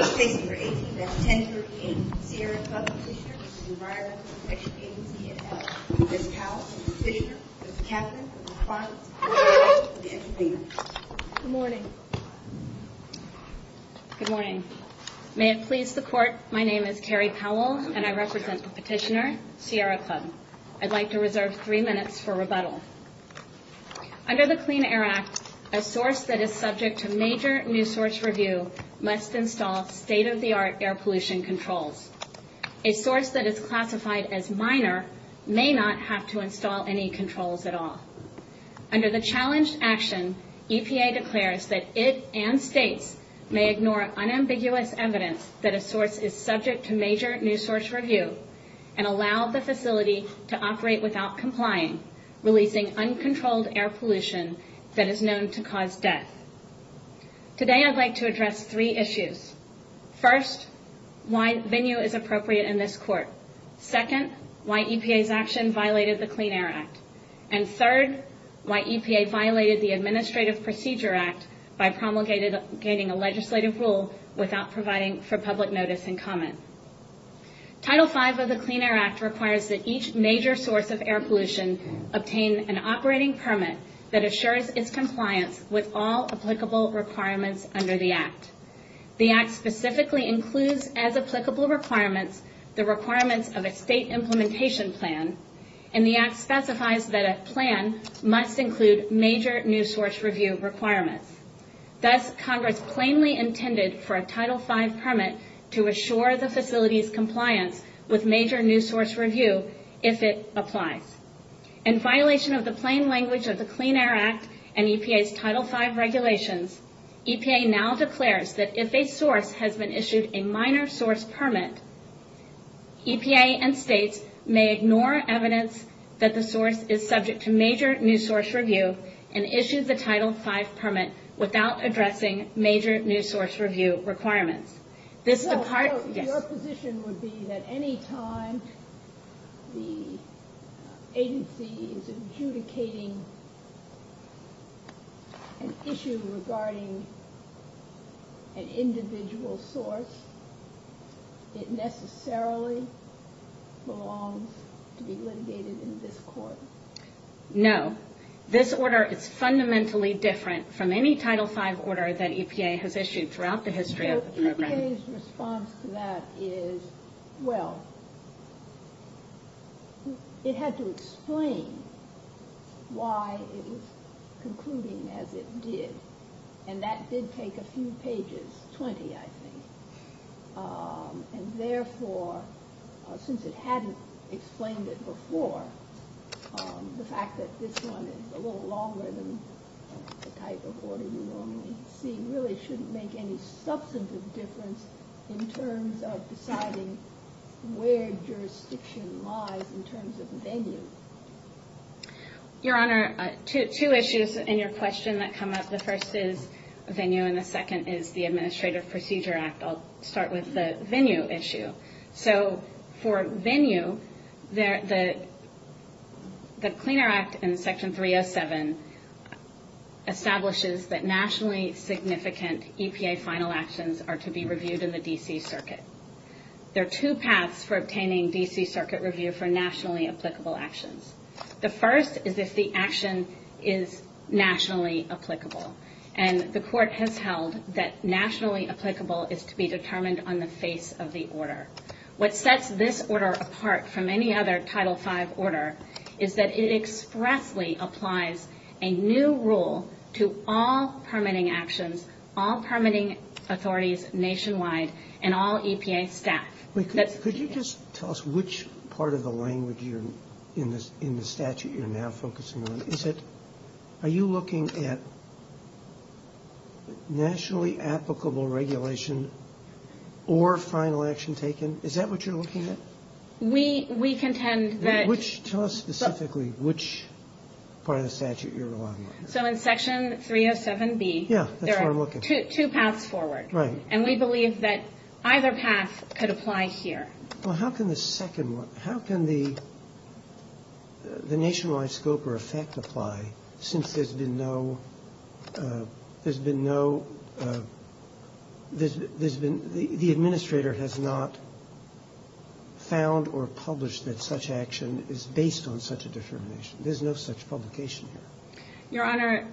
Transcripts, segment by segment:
Statement Number 8, Convention Number 8, Sierra Club Petitioners, Environment, Education, and Health. Ms. Powell, the Petitioner, Ms. Catherine, the Respondent, and the Rebuttal Committee. Good morning. Good morning. May it please the Court, my name is Carrie Powell, and I represent the Petitioner, Sierra Club. Under the Clean Air Act, a source that is subject to major new source review must install state-of-the-art air pollution controls. A source that is classified as minor may not have to install any controls at all. Under the challenge action, EPA declares that it and states may ignore unambiguous evidence that a source is subject to major new source review and allow the facility to operate without complying, releasing uncontrolled air pollution that is known to cause death. Today I'd like to address three issues. First, why venue is appropriate in this Court. Second, why EPA's action violated the Clean Air Act. And third, why EPA violated the Administrative Procedure Act by promulgating a legislative rule without providing for public notice and comment. Title V of the Clean Air Act requires that each major source of air pollution obtain an operating permit that assures its compliance with all applicable requirements under the Act. The Act specifically includes as applicable requirements the requirements of a state implementation plan, and the Act specifies that a plan must include major new source review requirements. Thus, Congress plainly intended for a Title V permit to assure the facility's compliance with major new source review if it applies. In violation of the plain language of the Clean Air Act and EPA's Title V regulations, EPA now declares that if a source has been issued a minor source permit, EPA and states may ignore evidence that the source is subject to major new source review and issue the Title V permit without addressing major new source review requirements. Your position would be that any time the agency is adjudicating an issue regarding an individual source, it necessarily belongs to be litigated in this Court? No. This order is fundamentally different from any Title V order that EPA has issued throughout the history of the program. EPA's response to that is, well, it had to explain why it was concluding as it did, and that did take a few pages, 20 I think. And therefore, since it hadn't explained it before, the fact that this one is a little longer than the type of order you normally see really shouldn't make any substantive difference in terms of deciding where jurisdiction lies in terms of venue. Your Honor, two issues in your question that come up. The first is venue and the second is the Administrative Procedure Act. I'll start with the venue issue. So for venue, the Cleaner Act in Section 307 establishes that nationally significant EPA final actions are to be reviewed in the D.C. Circuit. There are two paths for obtaining D.C. Circuit review for nationally applicable actions. The first is if the action is nationally applicable, and the Court has held that nationally applicable is to be determined on the face of the order. What sets this order apart from any other Title V order is that it expressly applies a new rule to all permitting actions, all permitting authorities nationwide, and all EPA staff. Could you just tell us which part of the language in the statute you're now focusing on? Are you looking at nationally applicable regulation or final action taken? Is that what you're looking at? We contend that... Tell us specifically which part of the statute you're relying on. So in Section 307B, there are two paths forward. Right. And we believe that either path could apply here. Well, how can the second one... How can the nationwide scope or effect apply since there's been no... The administrator has not found or published that such action is based on such a determination. There's no such publication here. Your Honor,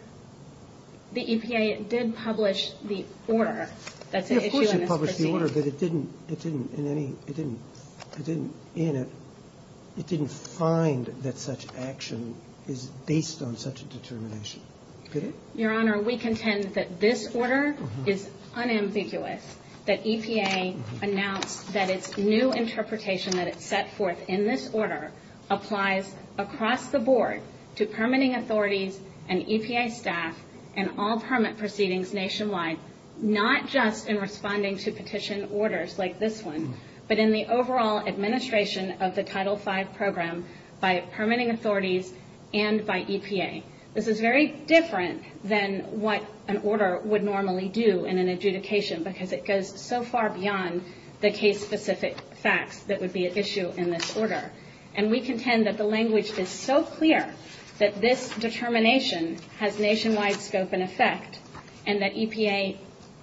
the EPA did publish the order. Of course it published the order, but it didn't in it... It didn't find that such action is based on such a determination. Your Honor, we contend that this order is unambiguous, that EPA announced that its new interpretation that it set forth in this order applies across the board to permitting authorities and EPA staff and all permit proceedings nationwide, not just in responding to petition orders like this one, but in the overall administration of the Title V program by permitting authorities and by EPA. This is very different than what an order would normally do in an adjudication because it goes so far beyond the case-specific facts that would be at issue in this order. And we contend that the language is so clear that this determination has nationwide scope and effect and that EPA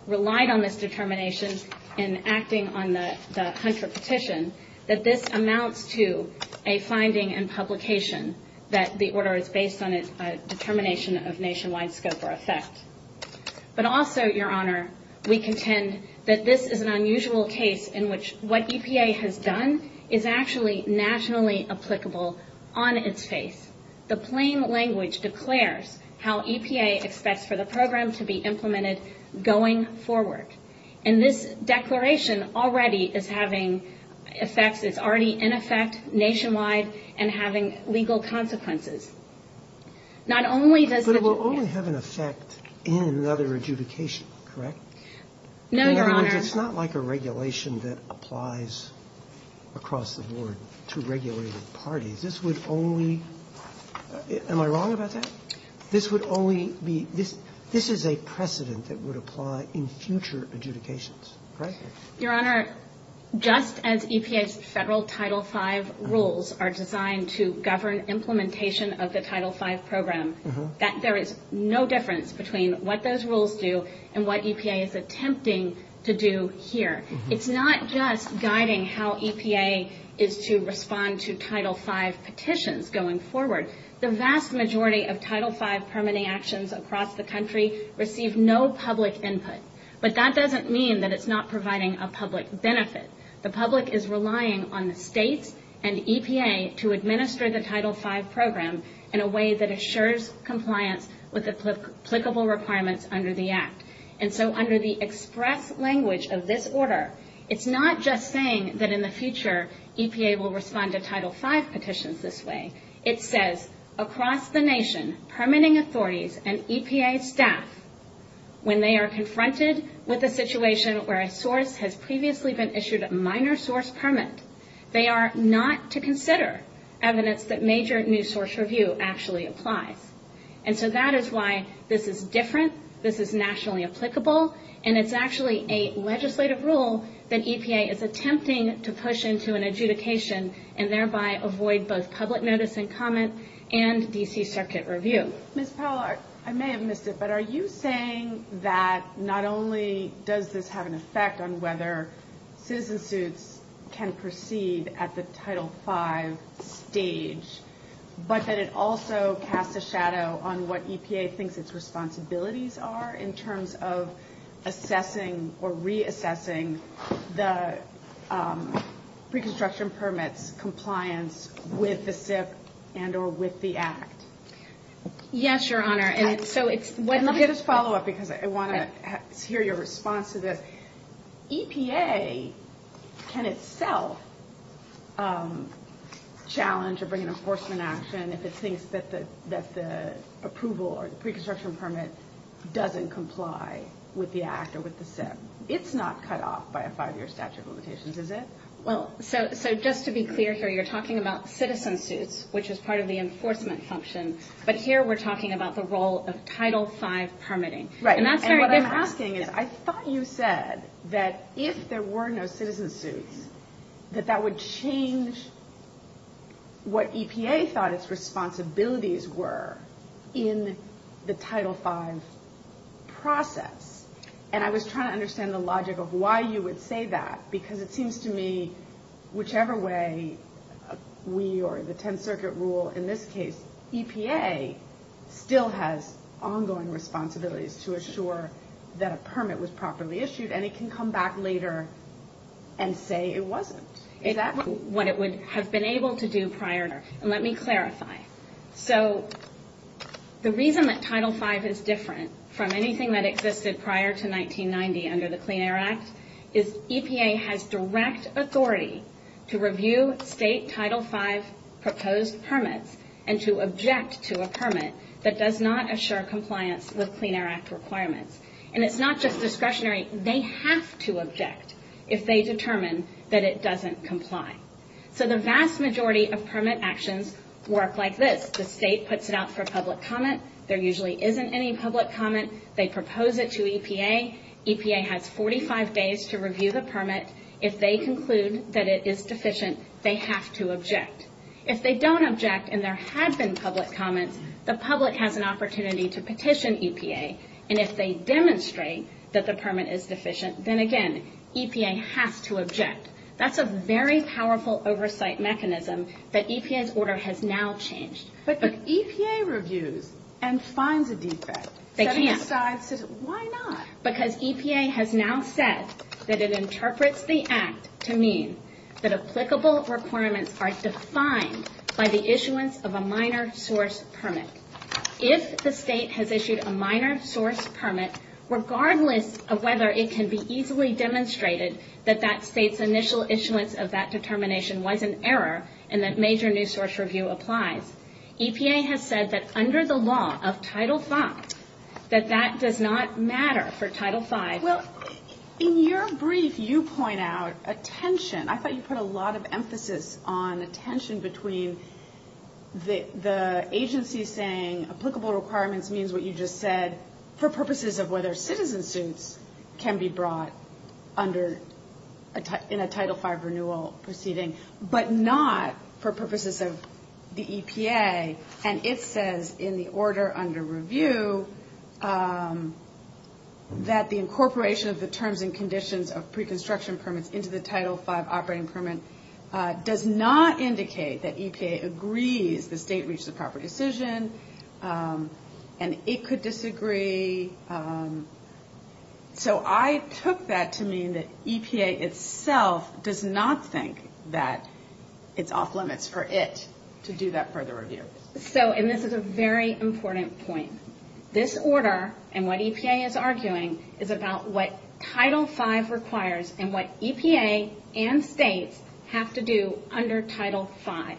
relied on this determination in acting on the Hunter petition that this amounts to a finding and publication that the order is based on its determination of nationwide scope or effect. But also, Your Honor, we contend that this is an unusual case in which what EPA has done is actually nationally applicable on its face. The plain language declares how EPA expects for the program to be implemented going forward. And this declaration already is having effects. It's already in effect nationwide and having legal consequences. But it will only have an effect in another adjudication, correct? No, Your Honor. It's not like a regulation that applies across the board to regulated parties. This would only... Am I wrong about that? This is a precedent that would apply in future adjudications, correct? Your Honor, just as EPA's federal Title V rules are designed to govern implementation of the Title V program, there is no difference between what those rules do and what EPA is attempting to do here. It's not just guiding how EPA is to respond to Title V petitions going forward. The vast majority of Title V permitting actions across the country receive no public input. But that doesn't mean that it's not providing a public benefit. The public is relying on the state and EPA to administer the Title V program in a way that assures compliance with applicable requirements under the Act. And so under the express language of this order, it's not just saying that in the future EPA will respond to Title V petitions this way. It says, across the nation, permitting authorities and EPA staff, when they are confronted with a situation where a source has previously been issued a minor source permit, they are not to consider evidence that major new source review actually applies. And so that is why this is different, this is nationally applicable, and it's actually a legislative rule that EPA is attempting to push into an adjudication and thereby avoid both public notice and comment and D.C. Circuit review. Ms. Powell, I may have missed it, but are you saying that not only does this have an effect on whether businesses can proceed at the Title V stage, but that it also casts a shadow on what EPA thinks its responsibilities are in terms of assessing or reassessing the pre-construction permit compliance with the SIP and or with the Act? Yes, Your Honor. Let me just follow up because I want to hear your response to this. EPA can itself challenge or bring an enforcement action if it thinks that the approval or pre-construction permit doesn't comply with the Act or with the SIP. It's not cut off by a five-year statute of limitations, is it? Well, so just to be clear here, you're talking about citizen suits, which is part of the enforcement function, but here we're talking about the role of Title V permitting. Right. And what I'm asking is, I thought you said that if there were no citizen suits, that that would change what EPA thought its responsibilities were in the Title V process. And I was trying to understand the logic of why you would say that, because it seems to me whichever way we or the Tenth Circuit rule in this case, EPA still has ongoing responsibilities to assure that a permit was properly issued, and it can come back later and say it wasn't. Is that what it would have been able to do prior? Let me clarify. So the reason that Title V is different from anything that existed prior to 1990 under the Clean Air Act is EPA has direct authority to review state Title V proposed permits and to object to a permit that does not assure compliance with Clean Air Act requirements. And it's not just discretionary. They have to object if they determine that it doesn't comply. So the vast majority of permit actions work like this. The state puts it out for public comment. There usually isn't any public comment. They propose it to EPA. EPA has 45 days to review the permit. If they conclude that it is deficient, they have to object. If they don't object and there has been public comment, the public has an opportunity to petition EPA, and if they demonstrate that the permit is deficient, then, again, EPA has to object. That's a very powerful oversight mechanism that EPA's order has now changed. But does EPA review and find the defect? They can't. Why not? Because EPA has now said that it interprets the act to mean that applicable requirements are defined by the issuance of a minor source permit. If the state has issued a minor source permit, regardless of whether it can be easily demonstrated that that state's initial issuance of that determination was an error and that major new source review applies, EPA has said that under the law of Title V, that that does not matter for Title V. Well, in your brief, you point out a tension. I thought you put a lot of emphasis on the tension between the agency saying applicable requirements means what you just said for purposes of whether citizens can be brought under in a Title V renewal proceeding, but not for purposes of the EPA. And it says in the order under review that the incorporation of the terms and conditions of pre-construction permits into the Title V operating permit does not indicate that EPA agrees the state reached a proper decision and it could disagree. So I took that to mean that EPA itself does not think that it's off limits for it to do that further review. So, and this is a very important point. This order and what EPA is arguing is about what Title V requires and what EPA and states have to do under Title V.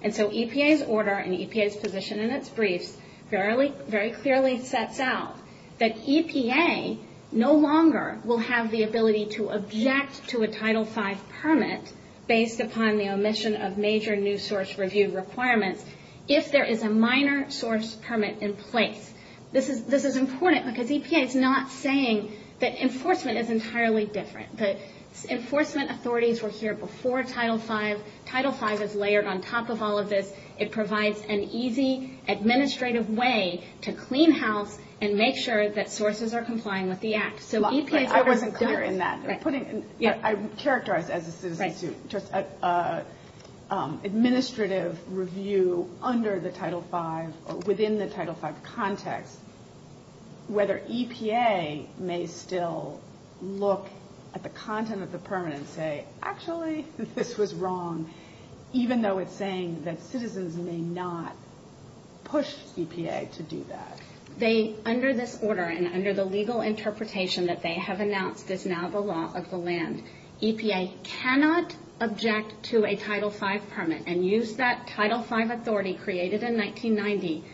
And so EPA's order and EPA's position in its brief very clearly sets out that EPA no longer will have the ability to object to a Title V permit based upon the omission of major new source review requirements if there is a minor source review permit in place. This is important because EPA is not saying that enforcement is entirely different. But enforcement authorities were here before Title V. Title V is layered on top of all of this. It provides an easy administrative way to clean house and make sure that sources are complying with the act. So EPA doesn't care. I would characterize this as an administrative review under the Title V or within the Title V context. Whether EPA may still look at the content of the permit and say actually this was wrong even though it's saying that citizens may not push EPA to do that. They under this order and under the legal interpretation that they have announced is now the law of the land. EPA cannot object to a Title V permit and use that Title V authority created in 1990.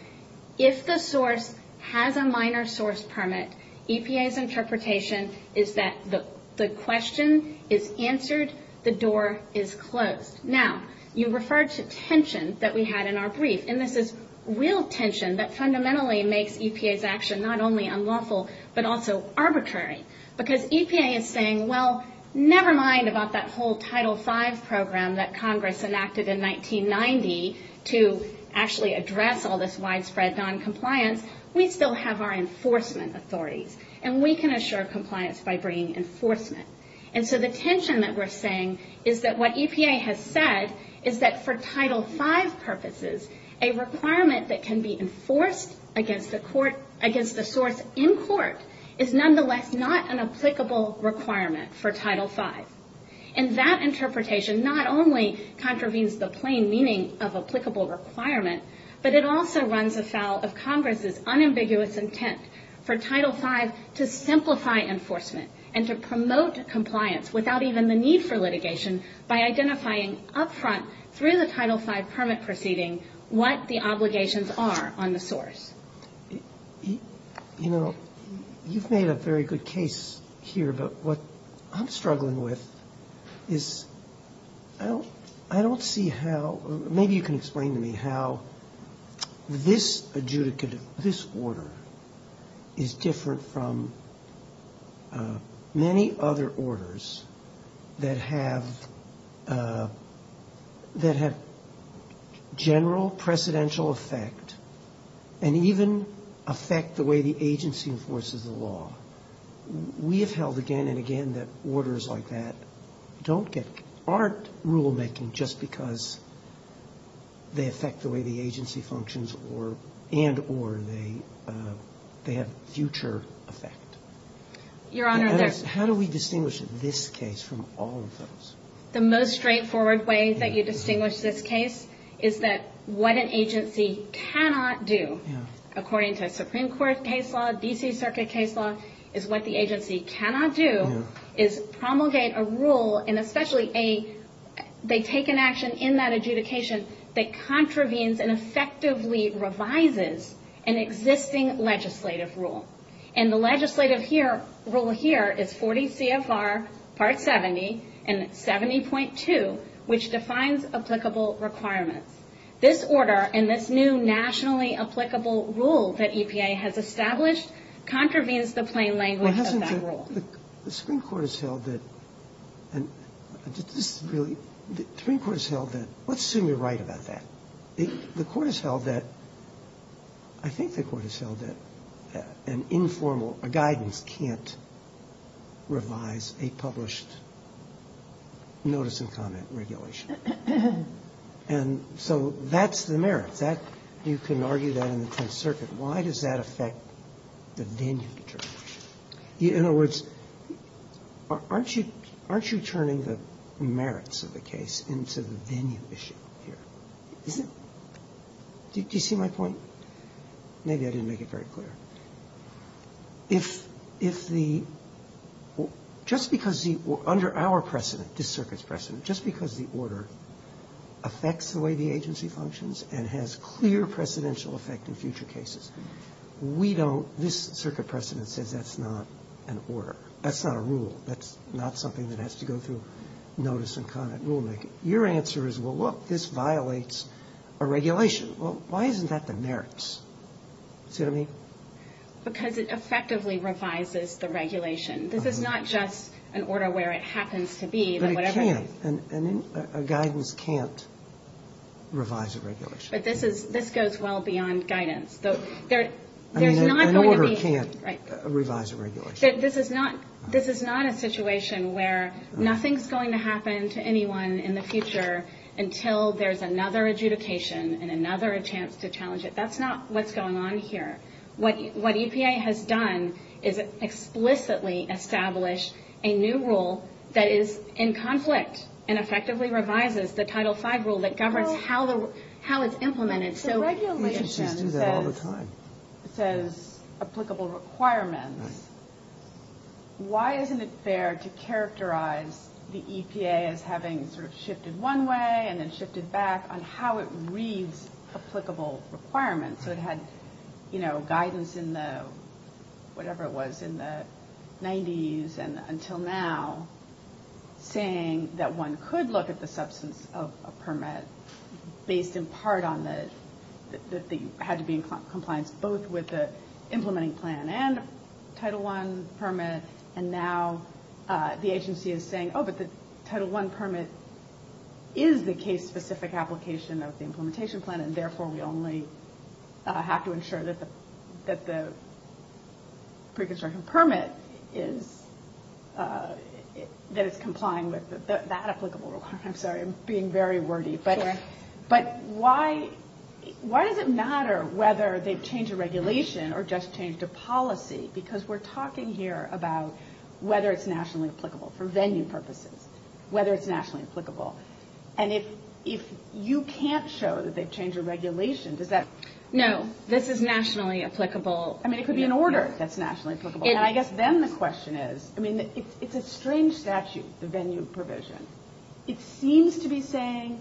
If the source has a minor source permit, EPA's interpretation is that the question is answered. The door is closed. Now you referred to tension that we had in our brief. And this is real tension that fundamentally makes EPA's action not only unlawful but also arbitrary. Because EPA is saying, well, never mind about that whole Title V program that Congress enacted in 1990 to actually address all this widespread noncompliance. We still have our enforcement authorities. And we can assure compliance by bringing enforcement. And so the tension that we're saying is that what EPA has said is that for Title V purposes, a requirement that can be enforced against the source in court is nonetheless not an applicable requirement for Title V. And that interpretation not only contravenes the plain meaning of applicable requirement, but it also runs unambiguous intent for Title V to simplify enforcement and to promote compliance without even the need for litigation by identifying up front through the Title V permit proceeding what the obligations are on the source. You know, you've made a very good case here. But what I'm struggling with is I don't see how, maybe you can explain to me how this order is different from many other orders that have general precedential effect and even affect the way the agency enforces the law. We have held again and again that orders like that aren't rulemaking just because they affect the way the agency functions and or they have future effect. How do we distinguish this case from all of those? The most straightforward way that you distinguish this case is that what an agency cannot do, according to Supreme Court case law, is what the agency cannot do is promulgate a rule and especially a, they take an action in that adjudication that contravenes and effectively revises an existing legislative rule. And the legislative rule here is 40 CFR Part 70 and 70.2, which defines applicable requirement. This order and this new nationally applicable rule that EPA has established contravenes the plain language of that rule. The Supreme Court has held that, let's assume you're right about that. The court has held that, I think the court has held that an informal, a guidance can't revise a published notice of comment regulation. And so that's the merit. You can argue that in the Fifth Circuit. Why does that affect the Danube case? In other words, aren't you turning the merits of the case into the Danube issue? Do you see my point? Maybe I didn't make it very clear. If the, just because the, under our precedent, this circuit's precedent, just because the order affects the way the agency functions and has clear precedential effect in future cases, we don't, this circuit precedent says that's not an order. That's not a rule. That's not something that has to go through notice of comment rulemaking. Your answer is, well, look, this violates a regulation. Well, why isn't that the merits? Excuse me? Because it effectively revises the regulation. This is not just an order where it happens to be. But it can't. A guidance can't revise a regulation. But this goes well beyond guidance. There's not going to be. An order can't revise a regulation. This is not a situation where nothing's going to happen to anyone in the future until there's another adjudication and another chance to challenge it. That's not what's going on here. What EPA has done is explicitly establish a new rule that is in conflict and effectively revises the Title V rule that governs how it's implemented. The regulation says applicable requirements. Why isn't it fair to characterize the EPA as having sort of shifted one way and then shifted back on how it reads applicable requirements? So it had, you know, guidance in the, whatever it was, in the 90s and until now saying that one could look at the substance of a permit based in part on the had to be in compliance both with the implementing plan and Title I permit. And now the agency is saying, oh, but the Title I permit is the case-specific application of the implementation plan. And, therefore, we only have to ensure that the pre-construction permit is, that it's complying with that applicable requirement. I'm sorry. I'm being very wordy. But why does it matter whether they've changed a regulation or just changed a policy? Because we're talking here about whether it's nationally applicable for venue purposes, whether it's nationally applicable. And if you can't show that they've changed a regulation, is that- No. This is nationally applicable. I mean, it could be an order that's nationally applicable. And I guess then the question is, I mean, it's a strange statute, the venue provision. It seems to be saying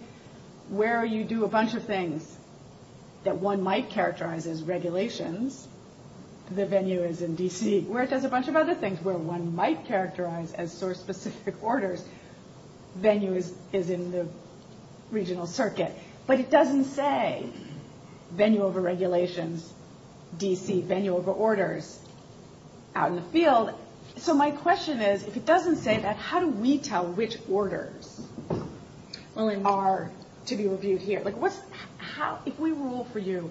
where you do a bunch of things that one might characterize as regulations, the venue is in D.C., where it says a bunch of other things where one might characterize as source-specific orders, venue is in the regional circuit. But it doesn't say venue over regulations, D.C., venue over orders out in the field. So my question is, if it doesn't say that, how do we tell which orders are to be reviewed here? If we rule for you,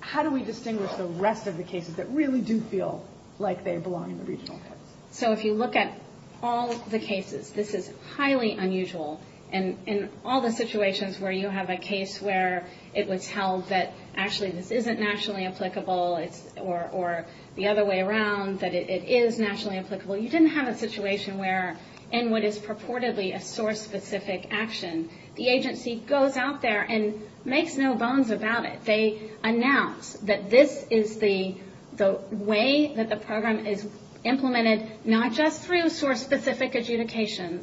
how do we distinguish the rest of the cases that really do feel like they belong in the regional circuit? So if you look at all the cases, this is highly unusual. And in all the situations where you have a case where it was held that actually this isn't nationally applicable or the other way around, that it is nationally applicable, you didn't have a situation where in what is purportedly a source-specific action, the agency goes out there and makes no bones about it. They announce that this is the way that the program is implemented, not just through source-specific adjudication,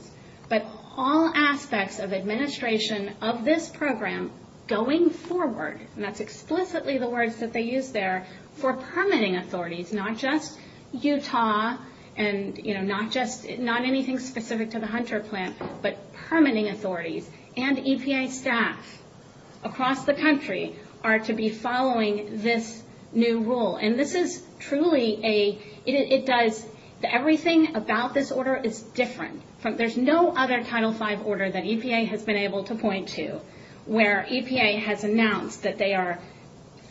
but all aspects of administration of this program going forward. And that's explicitly the words that they use there for permitting authorities, not just Utah and, you know, not anything specific to the Hunter plant, but permitting authorities and EPA staff across the country are to be following this new rule. And this is truly a – it does – everything about this order is different. There's no other Title V order that EPA has been able to point to where EPA has announced that they are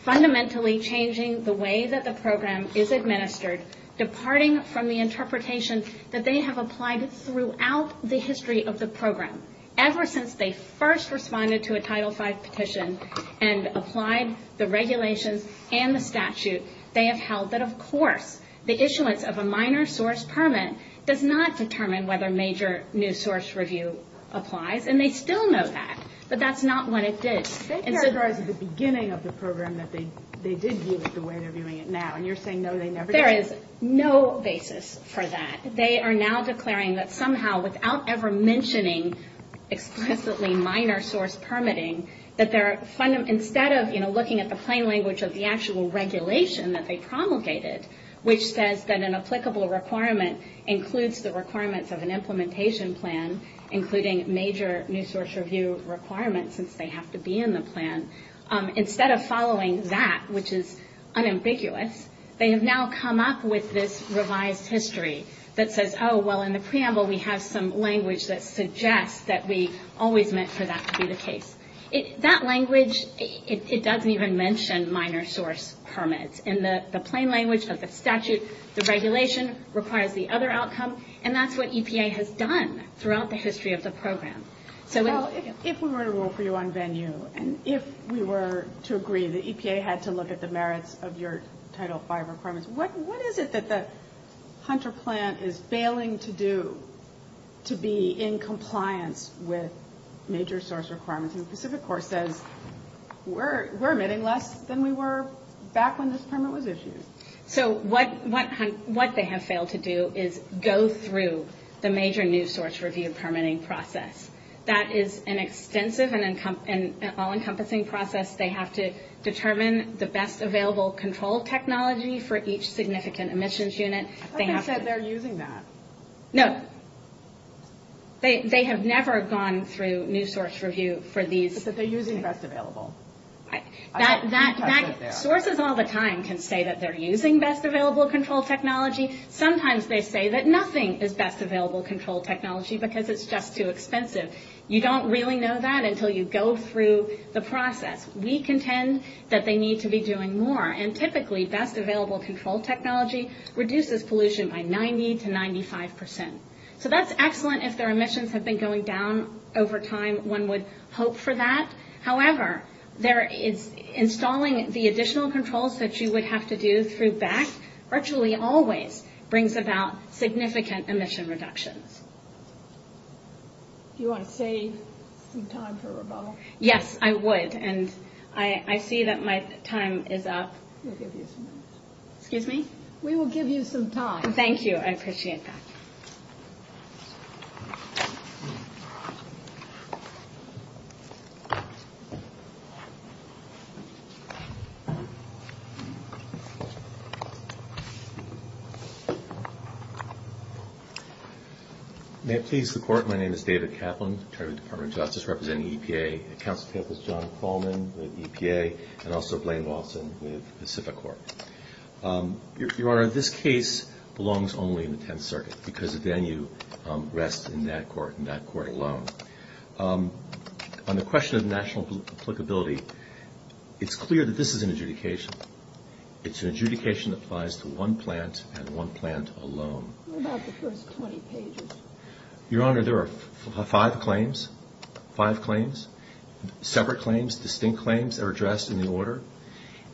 fundamentally changing the way that the program is administered, departing from the interpretation that they have applied throughout the history of the program. Ever since they first responded to a Title V petition and applied the regulations and the statute, they have held that, of course, the issuance of a minor source permit does not determine whether major new source review applies. And they still know that, but that's not what it did. They declared at the beginning of the program that they did deal with the way they're doing it now, and you're saying, no, they never did. There is no basis for that. They are now declaring that somehow, without ever mentioning explicitly minor source permitting, that they're – instead of, you know, looking at the plain language of the actual regulation that they promulgated, which says that an applicable requirement includes the requirements of an implementation plan, including major new source review requirements since they have to be in the plan, instead of following that, which is unambiguous, they have now come up with this revised history that says, oh, well, in the preamble we have some language that suggests that we always meant for that to be the case. That language, it doesn't even mention minor source permits. In the plain language, but the statute, the regulation requires the other outcome, and that's what EPA has done throughout the history of the program. Well, if we were to rule for you on venue, and if we were to agree that EPA had to look at the merits of your Title V requirements, what is it that the Hunter plant is failing to do to be in compliance with major source requirements? And Pacific Corps says, we're emitting less than we were back when this permit was issued. So what they have failed to do is go through the major new source review permitting process. That is an extensive and all-encompassing process. They have to determine the best available control technology for each significant emissions unit. I thought they said they're using that. No. They have never gone through new source review for these. They said they're using best available. That sources all the time can say that they're using best available control technology. Sometimes they say that nothing is best available control technology because it's just too expensive. You don't really know that until you go through the process. We contend that they need to be doing more, and typically best available control technology reduces pollution by 90 to 95 percent. So that's excellent if their emissions have been going down over time. One would hope for that. However, installing the additional controls that you would have to do through BASC virtually always brings about significant emission reduction. Do you want to save some time for rebuttal? Yes, I would. I see that my time is up. We'll give you some time. Excuse me? We will give you some time. Thank you. I appreciate that. Thank you. May I please report? My name is David Kaplan, Attorney with the Department of Justice, representing EPA. My counsel is John Coleman with EPA, and also Blaine Lawson with Pacific Corp. Your Honor, this case belongs only in the Tenth Circuit because, again, you rest in that court alone. On the question of national applicability, it's clear that this is an adjudication. It's an adjudication that applies to one plant and one plant alone. What about the first 20 pages? Your Honor, there are five claims, five claims, separate claims, distinct claims that are addressed in the order.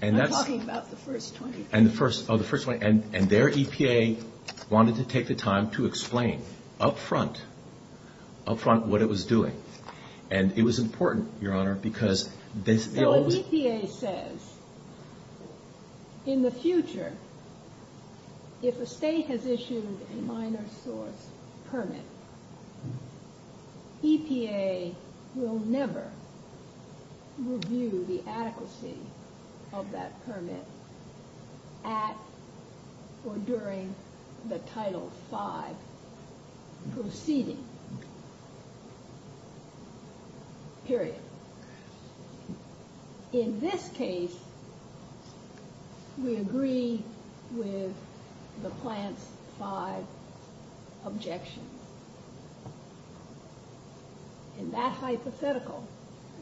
I'm talking about the first 20 pages. And their EPA wanted to take the time to explain up front, up front what it was doing. And it was important, Your Honor, because... EPA says, in the future, if a state has issued a minor court permit, EPA will never review the adequacy of that permit at or during the Title V proceeding. Period. In this case, we agree with the plant five objections. In that hypothetical,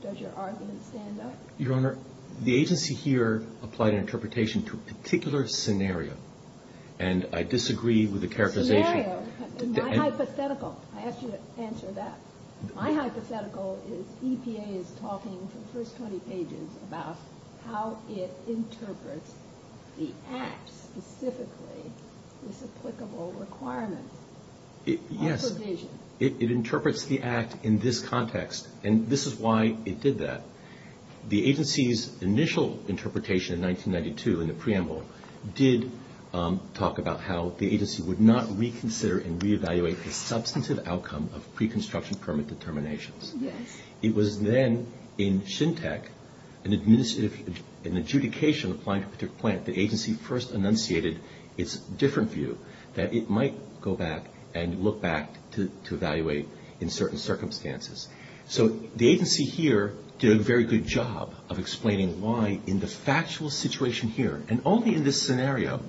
does your argument stand up? Your Honor, the agency here applied an interpretation to a particular scenario, and I disagree with the characterization. Yeah, in my hypothetical. I have to answer that. My hypothetical is EPA is talking to the first 20 pages about how it interprets the Act specifically, this applicable requirement. Yes, it interprets the Act in this context, and this is why it did that. The agency's initial interpretation in 1992 in the preamble did talk about how the agency would not reconsider and reevaluate the substantive outcome of pre-construction permit determinations. Yes. It was then in SHINTEC, an adjudication applied to a particular plant, the agency first enunciated its different view, that it might go back and look back to evaluate in certain circumstances. So, the agency here did a very good job of explaining why in the factual situation here, and only in this scenario,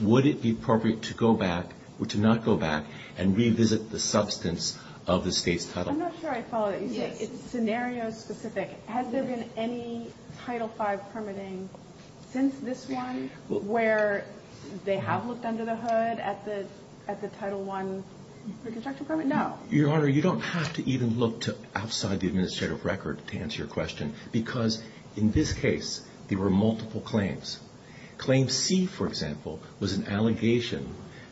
would it be appropriate to go back or to not go back and revisit the substance of this case. I'm not sure I saw it. It's scenario specific. Has there been any Title V permitting since this one where they have looked under the hood at the Title I pre-construction permit? No. Your Honor, you don't have to even look outside the administrative record to answer your question, because in this case, there were multiple claims. Claim C, for example, was an allegation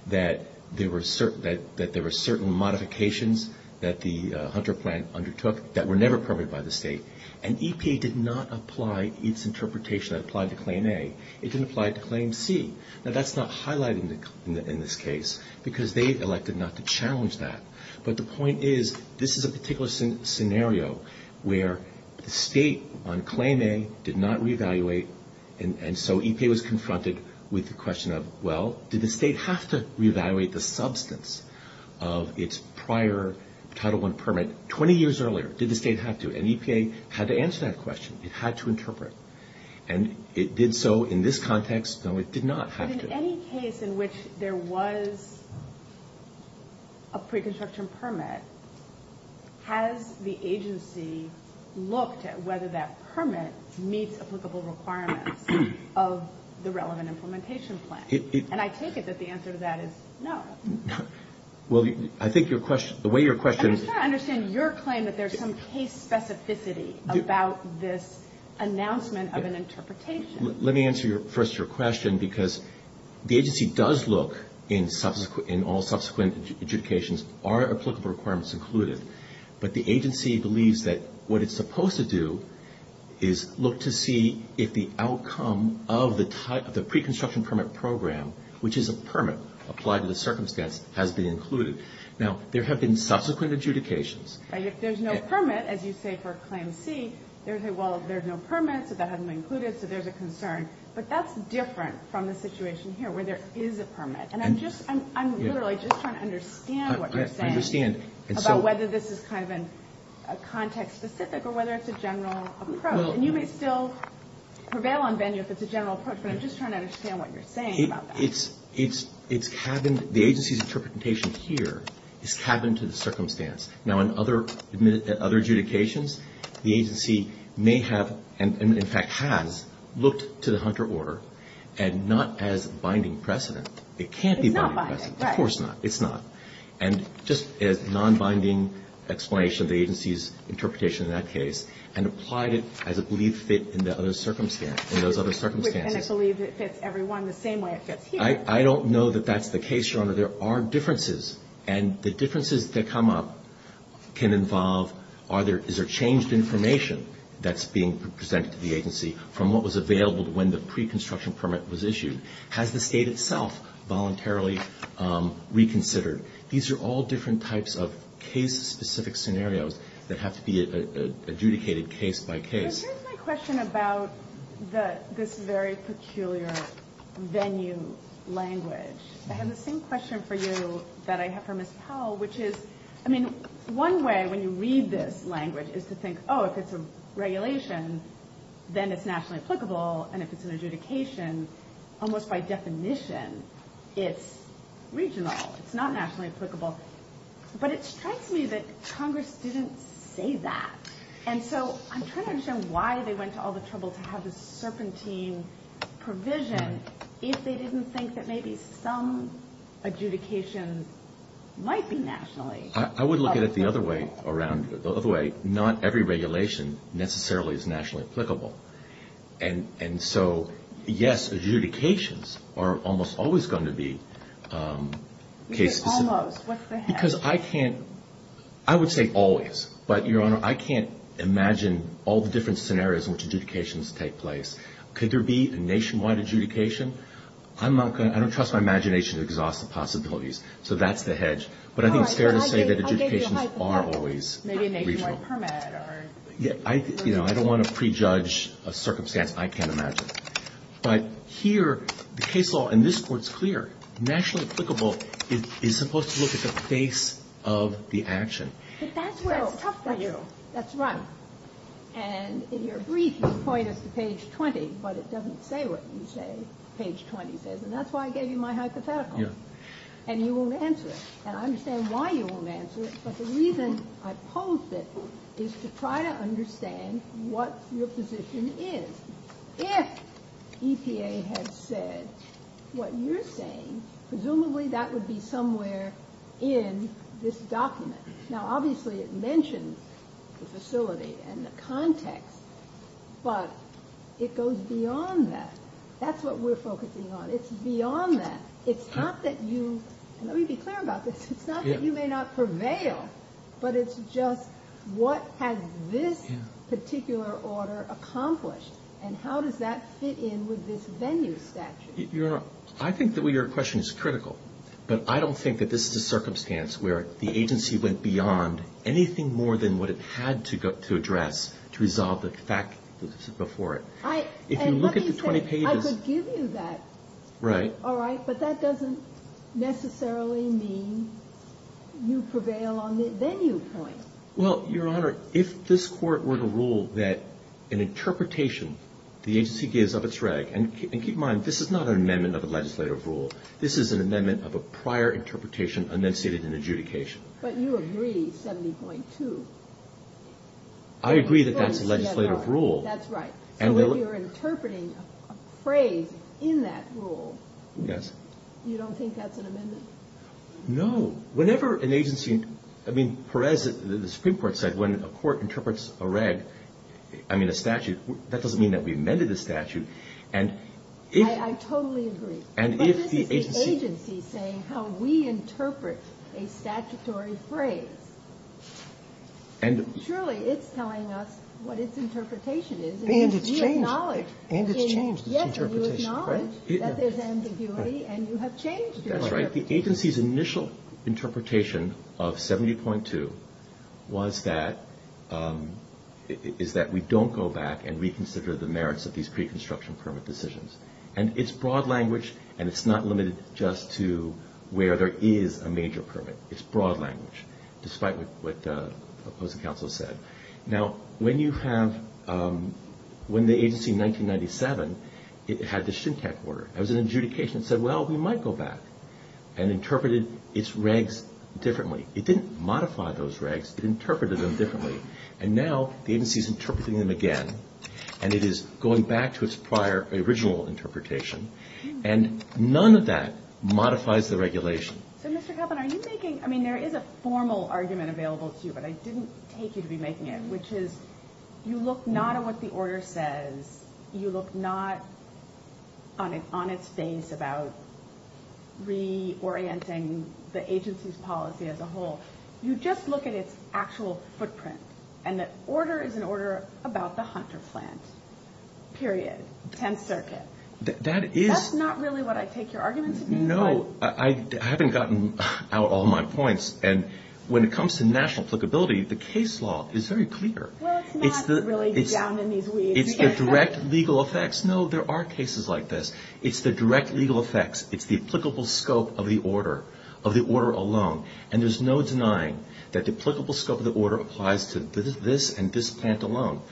that there were certain modifications that the Hunter plant undertook that were never permitted by the state, and EPA did not apply its interpretation that applied to Claim A. It didn't apply to Claim C. Now, that's not highlighted in this case, because they elected not to challenge that. But the point is, this is a particular scenario where the state on Claim A did not reevaluate, and so EPA was confronted with the question of, well, did the state have to reevaluate the substance of its prior Title I permit 20 years earlier? Did the state have to? And EPA had to answer that question. It had to interpret. And it did so in this context, though it did not have to. But in any case in which there was a pre-construction permit, has the agency looked at whether that permit meets applicable requirements of the relevant implementation plan? And I take it that the answer to that is no. Well, I think the way your question… I'm just trying to understand your claim that there's some case specificity about this announcement of an interpretation. Let me answer first your question, because the agency does look in all subsequent adjudications, are applicable requirements included? But the agency believes that what it's supposed to do is look to see if the outcome of the pre-construction permit program, which is a permit applied to the circumstance, has been included. Now, there have been subsequent adjudications. If there's no permit, as you say for Claim C, there's a, well, there's no permit, so that hasn't been included, so there's a concern. But that's different from the situation here where there is a permit. And I'm just, I'm literally just trying to understand what you're saying about whether this is kind of a context specific or whether it's a general approach. And you may still prevail on venue if it's a general approach, but I'm just trying to understand what you're saying about that. It's happened, the agency's interpretation here has happened to the circumstance. Now, in other adjudications, the agency may have, and in fact has, looked to the Hunter order, and not as a binding precedent. It can't be binding precedent. It's not binding, right. Of course not, it's not. And just a non-binding explanation of the agency's interpretation in that case, and applied it as a belief fit in the other circumstance, in those other circumstances. And it believes it fits everyone the same way it fits here. I don't know that that's the case, Shona. There are differences. And the differences that come up can involve, is there changed information that's being presented to the agency from what was available when the pre-construction permit was issued? Has the state itself voluntarily reconsidered? These are all different types of case specific scenarios that have to be adjudicated case by case. My question about this very peculiar venue language. I have the same question for you that I have for Ms. Powell, which is, I mean, one way when you read this language is to think, oh, if it's a regulation, then it's nationally applicable. And if it's an adjudication, almost by definition, it's regional. It's not nationally applicable. But it strikes me that Congress didn't say that. And so I'm trying to understand why they went to all the trouble to have this serpentine provision if they didn't think that maybe some adjudications might be nationally. I would look at it the other way around. The other way, not every regulation necessarily is nationally applicable. And so, yes, adjudications are almost always going to be case specific. Almost? What's the hint? Because I can't – I would say always. But, Your Honor, I can't imagine all the different scenarios in which adjudications take place. Could there be a nationwide adjudication? I don't trust my imagination to exhaust the possibilities. So that's the hedge. But I think Terri will say that adjudications are always regional. Maybe a nationwide permit. I don't want to prejudge a circumstance I can't imagine. But here, the case law in this court is clear. Nationally applicable is supposed to look at the face of the action. But that's where it comes from. That's right. And in your brief, you point up to page 20, but it doesn't say what you say page 20 says. And that's why I gave you my hypothetical. And you won't answer it. And I understand why you won't answer it. But the reason I pose this is to try to understand what your position is. If EPA had said what you're saying, presumably that would be somewhere in this document. Now, obviously it mentions the facility and the context. But it goes beyond that. That's what we're focusing on. It's beyond that. It's not that you, let me be clear about this, it's not that you may not prevail. But it's just what has this particular order accomplished? And how does that fit in with this venue statute? I think that your question is critical. But I don't think that this is a circumstance where the agency went beyond anything more than what it had to address to resolve the fact that this is before it. If you look at the 20 pages. I could give you that. Right. All right. But that doesn't necessarily mean you prevail on the venue point. Well, Your Honor, if this court were to rule that an interpretation the agency gives of its reg. And keep in mind, this is not an amendment of the legislative rule. This is an amendment of a prior interpretation enunciated in adjudication. But you agree, 70.2. I agree that that's a legislative rule. That's right. So if you're interpreting a phrase in that rule. Yes. You don't think that's an amendment? No. Whenever an agency, I mean, Perez, the Supreme Court said when a court interprets a reg, I mean a statute, that doesn't mean that we amended the statute. I totally agree. But that's the agency saying how we interpret a statutory phrase. Surely it's telling us what its interpretation is. And it's changed. Yes, you acknowledge that there's ambiguity and you have changed it. That's right. The agency's initial interpretation of 70.2 was that we don't go back and reconsider the merits of these pre-construction permit decisions. And it's broad language and it's not limited just to where there is a major permit. It's broad language. Despite what the opposing counsel said. Now, when you have, when the agency in 1997, it had the SHMTEC order. That was an adjudication that said, well, we might go back and interpreted its regs differently. It didn't modify those regs. It interpreted them differently. And now the agency is interpreting them again. And it is going back to its prior, original interpretation. And none of that modifies the regulation. So, Mr. Kaplan, are you making, I mean, there is a formal argument available to you. But I didn't take you to be making it. Which is, you look not at what the order says. You look not on an honest base about reorienting the agency's policy as a whole. You just look at its actual footprint. And that order is an order about the Hunter plant. Period. 10th Circuit. That is. That's not really what I take your argument to be. No, I haven't gotten out all my points. And when it comes to national applicability, the case law is very clear. Well, it's not really down in these weeds. It's direct legal effects. No, there are cases like this. It's the direct legal effects. It's the applicable scope of the order, of the order alone. And there is no denying that the applicable scope of the order applies to this and this plant alone.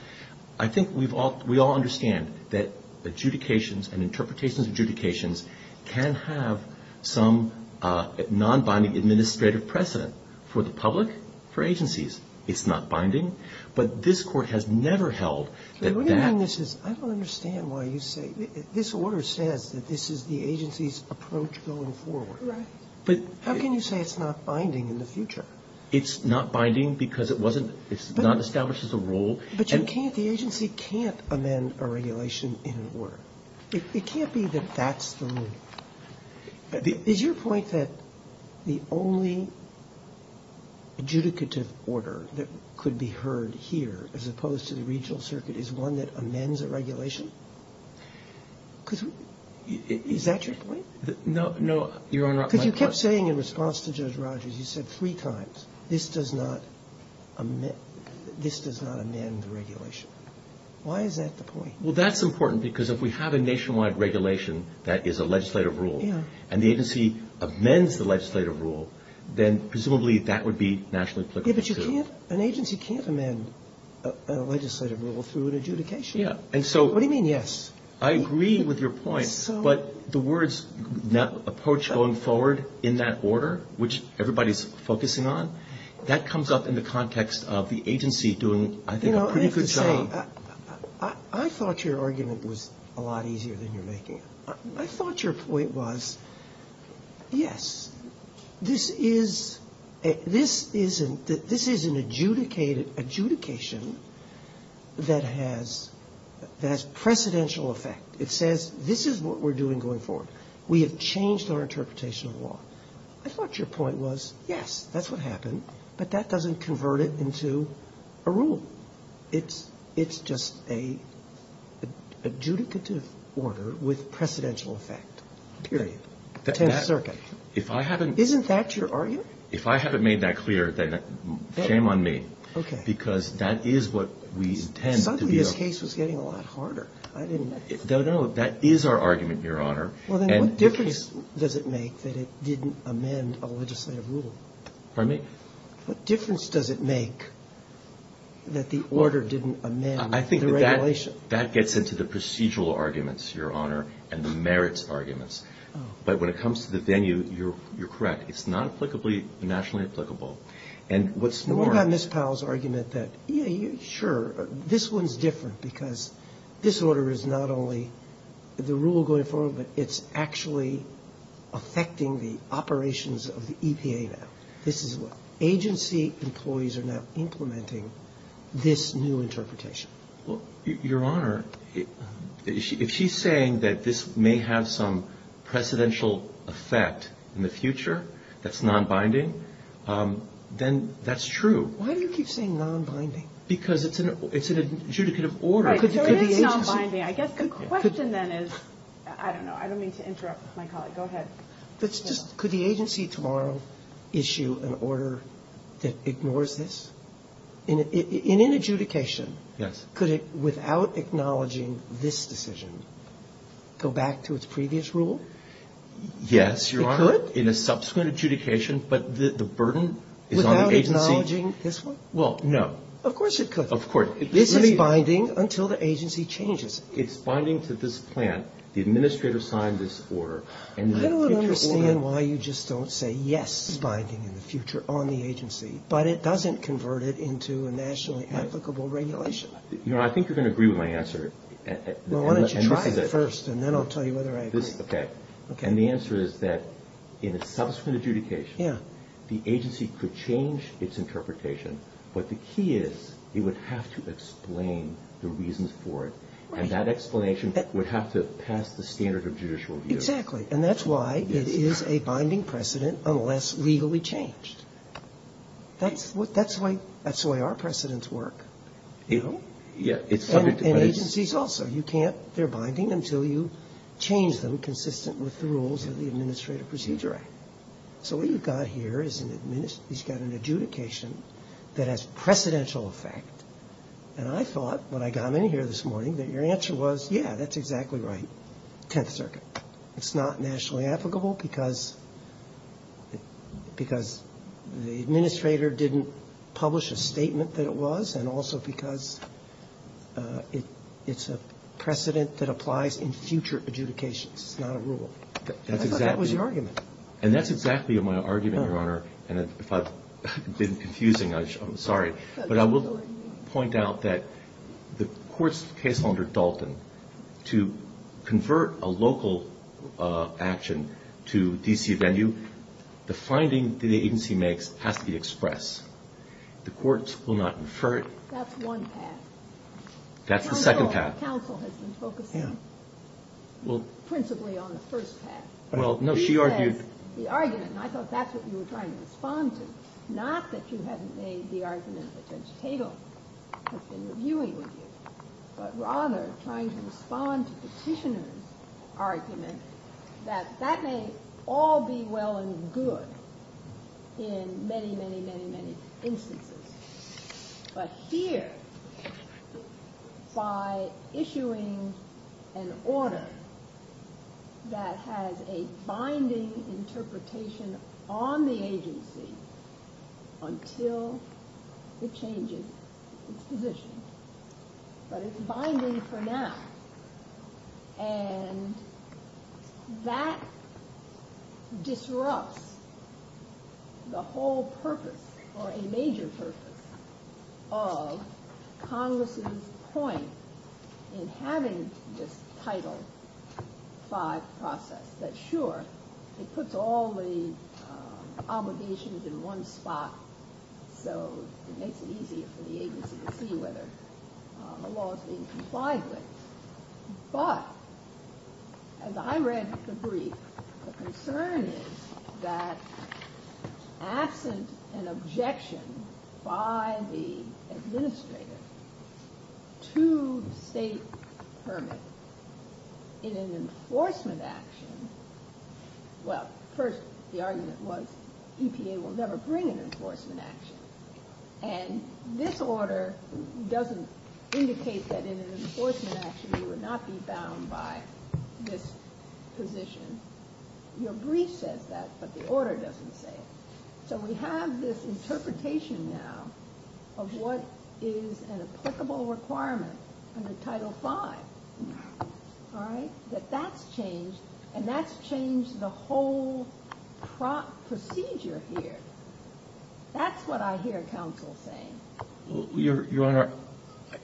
I think we all understand that adjudications and interpretations of adjudications can have some non-binding administrative precedent for the public, for agencies. It's not binding. But this court has never held that that. I don't understand why you say this order says that this is the agency's approach going forward. Right. How can you say it's not binding in the future? It's not binding because it wasn't, it's not established as a rule. But you can't, the agency can't amend a regulation in an order. It can't be that that's the rule. Is your point that the only adjudicative order that could be heard here as opposed to the regional circuit is one that amends a regulation? Is that your point? No, no. Because you kept saying in response to Judge Rogers, you said three times, this does not amend the regulation. Why is that the point? Well, that's important because if we have a nationwide regulation that is a legislative rule and the agency amends the legislative rule, then presumably that would be nationally applicable too. But you can't, an agency can't amend a legislative rule through an adjudication. What do you mean yes? I agree with your point. But the words approach going forward in that order, which everybody is focusing on, that comes up in the context of the agency doing, I think, a pretty good job. I thought your argument was a lot easier than you're making it. I thought your point was, yes, this is an adjudication that has precedential effect. It says, this is what we're doing going forward. We have changed our interpretation of the law. I thought your point was, yes, that's what happened, but that doesn't convert it into a rule. It's just an adjudicative order with precedential effect, period, 10th Circuit. Isn't that your argument? If I haven't made that clear, shame on me. Okay. Because that is what we intend to do. I thought your case was getting a lot harder. No, no, that is our argument, Your Honor. What difference does it make that it didn't amend a legislative rule? Pardon me? What difference does it make that the order didn't amend the regulation? I think that gets into the procedural arguments, Your Honor, and the merits arguments. But when it comes to the venue, you're correct. It's not applicably, nationally applicable. And what about Ms. Powell's argument that, yeah, sure, this one is different because this order is not only the rule going forward, but it's actually affecting the operations of the EPA now. This is what agency employees are now implementing this new interpretation. Well, Your Honor, if she's saying that this may have some precedential effect in the future, that's non-binding, then that's true. Why do you keep saying non-binding? Because it's an adjudicative order. Right, so it is non-binding. I guess the question then is, I don't know, I don't mean to interrupt my colleague. Go ahead. Could the agency tomorrow issue an order that ignores this? In an adjudication, could it, without acknowledging this decision, go back to its previous rule? Yes, Your Honor. It could in a subsequent adjudication, but the burden is on the agency. Without acknowledging this one? Well, no. Of course it could. Of course. It's non-binding until the agency changes it. It's binding to this plan, the administrative side of this order. I don't understand why you just don't say, yes, it's binding in the future on the agency, but it doesn't convert it into a nationally applicable regulation. You know, I think you're going to agree with my answer. Well, why don't you try it first, and then I'll tell you whether I agree. Okay. And the answer is that in a subsequent adjudication, the agency could change its interpretation, but the key is it would have to explain the reasons for it, and that explanation would have to pass the standard of judicial review. Exactly. And that's why it is a binding precedent unless legally changed. That's why our precedents work. And agencies also. They're binding until you change them consistent with the rules of the Administrative Procedure Act. So what you've got here is an adjudication that has precedential effect, and I thought when I got in here this morning that your answer was, yeah, that's exactly right, 10th Circuit. It's not nationally applicable because the administrator didn't publish a statement that was, and also because it's a precedent that applies in future adjudications, not a rule. I thought that was your argument. And that's exactly my argument, Your Honor. And if I've been confusing, I'm sorry. But I will point out that the court's case under Dalton, to convert a local action to The finding that the agency makes has to be expressed. The courts will not infer it. That's one path. That's the second path. Counsel has been spoken to principally on the first path. She has the argument, and I thought that's what you were trying to respond to. Not that you haven't made the argument that Judge Tatum has been reviewing, but rather trying to respond to Petitioner's argument that that may all be well and good in many, many, many, many instances. But here, by issuing an order that has a binding interpretation on the agency until the change in position. But it's binding for now. And that disrupts the whole purpose, or a major purpose, of Congress's point in having this Title V process. But sure, it puts all the obligations in one spot, so it makes it easier for the agency to see whether a law is being complied with. But, as I read the brief, the concern is that absent an objection by the administrator to state permits in an enforcement action, well, first, the argument was EPA will never bring an enforcement action. And this order doesn't indicate that in an enforcement action you would not be bound by this position. Your brief says that, but the order doesn't say it. So we have this interpretation now of what is an applicable requirement under Title V. All right? That that's changed, and that's changed the whole procedure here. That's what I hear counsel saying. Your Honor,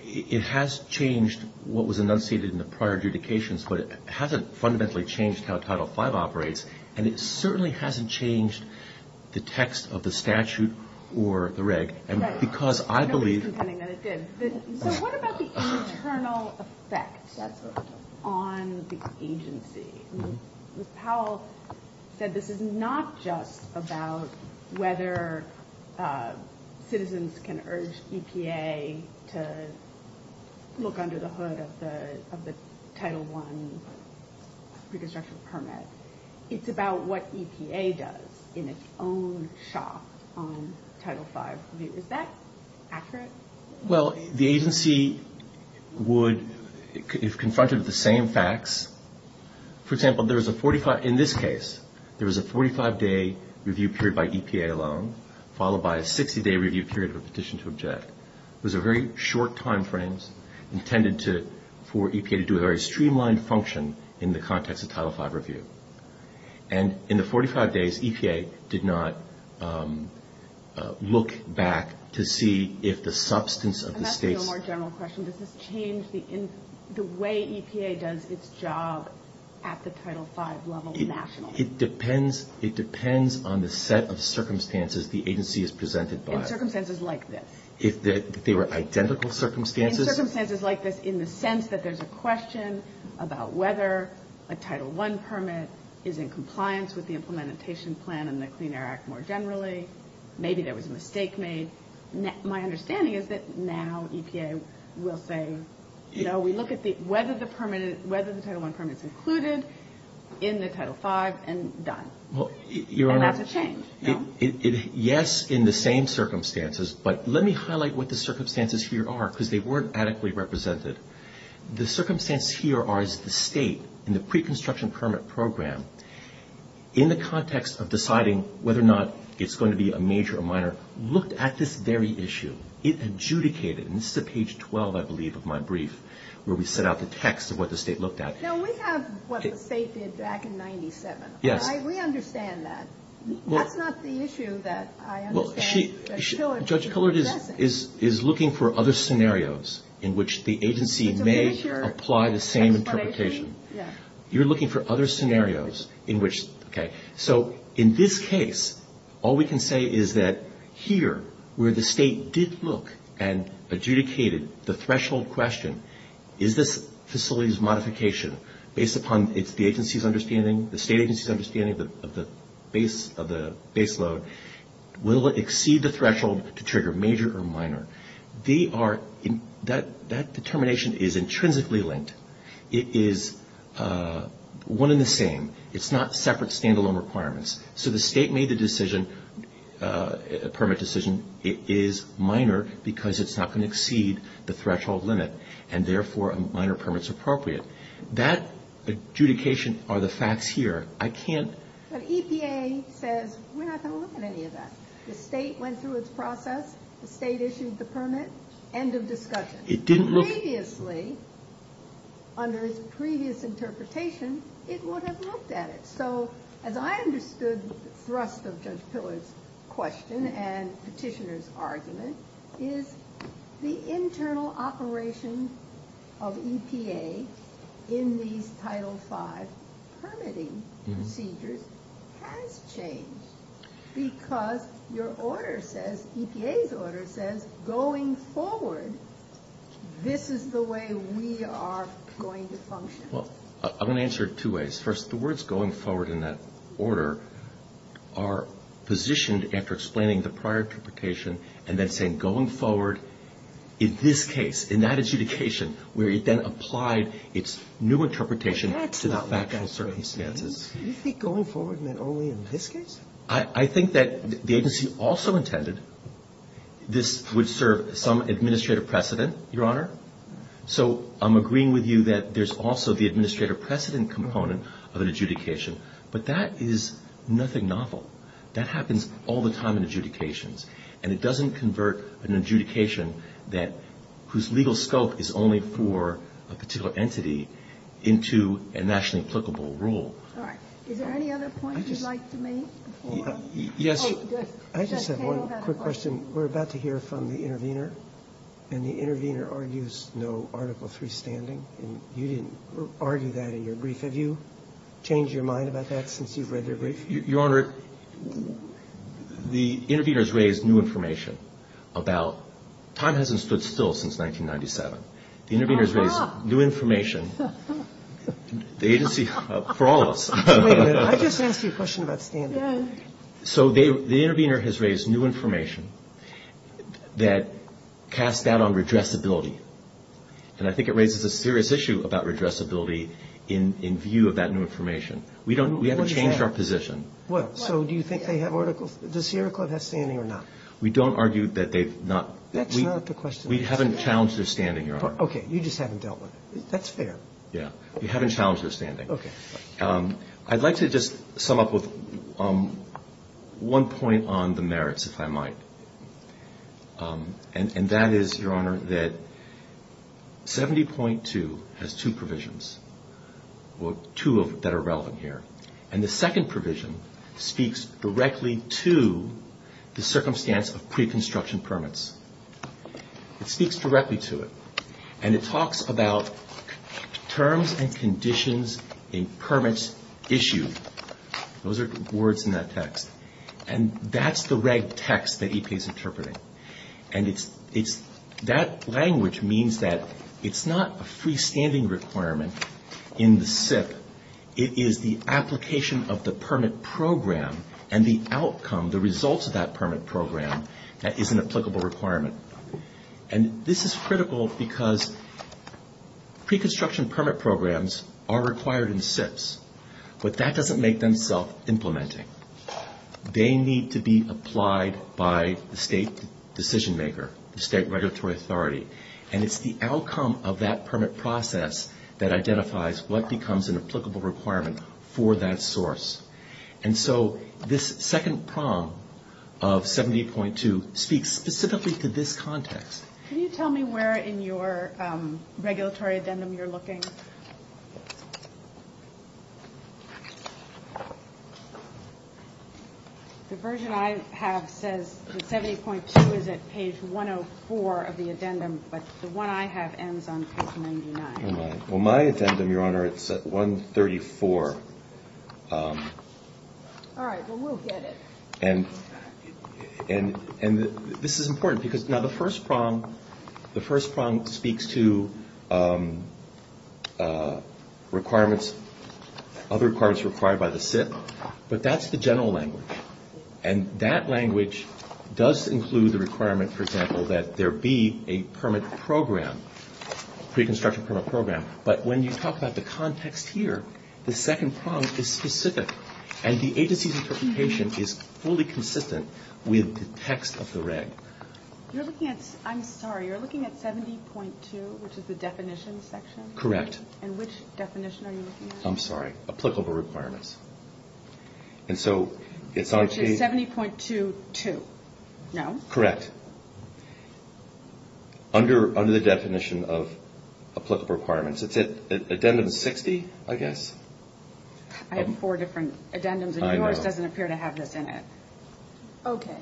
it has changed what was enunciated in the prior adjudications, but it hasn't fundamentally changed how Title V operates, and it certainly hasn't changed the text of the statute or the reg. Right. Because I believe... I'm just pretending that it did. So what about the internal effect that's on the agency? Ms. Powell said this is not just about whether citizens can urge EPA to look under the hood of the Title I Reconstruction Permit. It's about what EPA does in its own shop on Title V. Is that accurate? Well, the agency would, if confronted with the same facts... For example, there is a 45... In this case, there is a 45-day review period by EPA alone, followed by a 60-day review period of a petition to object. It was a very short timeframe intended for EPA to do a very streamlined function in the context of Title V review. And in the 45 days, EPA did not look back to see if the substance of the state... And that's a more general question. Does this change the way EPA does its job at the Title V level nationally? It depends on the set of circumstances the agency is presented by. And circumstances like this. They were identical circumstances? Circumstances like this in the sense that there's a question about whether a Title I permit is in compliance with the implementation plan and the Clean Air Act more generally. Maybe there was a mistake made. My understanding is that now EPA will say, you know, we look at whether the Title I permit is included in the Title V and done. And that's a change. Yes, in the same circumstances. But let me highlight what the circumstances here are because they weren't adequately represented. The circumstances here are that the state in the pre-construction permit program, in the context of deciding whether or not it's going to be a major or minor, looked at this very issue. It adjudicated. And this is at page 12, I believe, of my brief, where we set out the text of what the state looked at. Now, we have what the state did back in 97. Yes. We understand that. That's not the issue that I understand. Judge Cullard is looking for other scenarios in which the agency may apply the same interpretation. You're looking for other scenarios in which, okay. So in this case, all we can say is that here, where the state did look and adjudicated the threshold question, is this facility's modification, based upon the agency's understanding, the state agency's understanding of the base load, will it exceed the threshold to trigger major or minor? That determination is intrinsically linked. It is one and the same. It's not separate standalone requirements. So the state made the permit decision. It is minor because it's not going to exceed the threshold limit, and therefore a minor permit is appropriate. That adjudication are the facts here. I can't... But EPA says we're not going to look at any of that. The state went through its process. The state issued the permit. End of discussion. It didn't look... Previously, under its previous interpretation, it would have looked at it. So as I understood the thrust of Judge Pillar's question and Petitioner's argument, is the internal operations of EPA in these Title V permitting procedures has changed because your order says, EPA's order says, going forward, this is the way we are going to function. Well, I'm going to answer it two ways. First, the words going forward in that order are positioned after explaining the prior interpretation and then saying going forward in this case, in that adjudication, where it then applied its new interpretation to the background circumstances. Do you think going forward meant only in this case? I think that the agency also intended this would serve some administrative precedent, Your Honor. So I'm agreeing with you that there's also the administrative precedent component of an adjudication, but that is nothing novel. That happens all the time in adjudications, and it doesn't convert an adjudication whose legal scope is only for a particular entity into a nationally applicable rule. Is there any other points you'd like to make? Yes. I just have one quick question. We're about to hear from the intervener, and the intervener argues no Article III standing. You didn't argue that in your brief. Have you changed your mind about that since you've read your brief? Your Honor, the intervener has raised new information about – time hasn't stood still since 1997. The intervener has raised new information. The agency – for all of us. I just asked you a question about standards. So the intervener has raised new information that casts doubt on redressability, and I think it raises a serious issue about redressability in view of that new information. We haven't changed our position. So do you think they have Article – does Sierra Club have standing or not? We don't argue that they've not. That's not the question. We haven't challenged their standing, Your Honor. Okay. You just haven't dealt with it. That's fair. Yeah. We haven't challenged their standing. I'd like to just sum up with one point on the merits, if I might, and that is, Your Honor, that 70.2 has two provisions, two that are relevant here, and the second provision speaks directly to the circumstance of pre-construction permits. It speaks directly to it. And it talks about terms and conditions in permits issued. Those are the words in that text. And that's the red text that EK is interpreting. And it's – that language means that it's not a freestanding requirement in the SIP. It is the application of the permit program and the outcome, the results of that permit program that is an applicable requirement. And this is critical because pre-construction permit programs are required in SIPs, but that doesn't make them self-implementing. They need to be applied by the state decision maker, the state regulatory authority, and it's the outcome of that permit process that identifies what becomes an applicable requirement for that source. And so this second prong of 70.2 speaks specifically to this context. Can you tell me where in your regulatory addendum you're looking? The version I have says that 70.2 is at page 104 of the addendum, but the one I have ends on page 99. Well, my addendum, Your Honor, it's at 134. All right, well, we'll get it. And this is important because now the first prong speaks to requirements, other requirements required by the SIP, but that's the general language. And that language does include the requirement, for example, that there be a permit program, pre-construction permit program. But when you talk about the context here, the second prong is specific, and the agency's interpretation is fully consistent with the text of the reg. I'm sorry, you're looking at 70.2, which is the definition section? Correct. And which definition are you looking at? I'm sorry, applicable requirements. And so it's on page... 70.22, no? Correct. Under the definition of applicable requirements. It's at addendum 60, I guess. I have four different addendums, and yours doesn't appear to have that in it. Okay.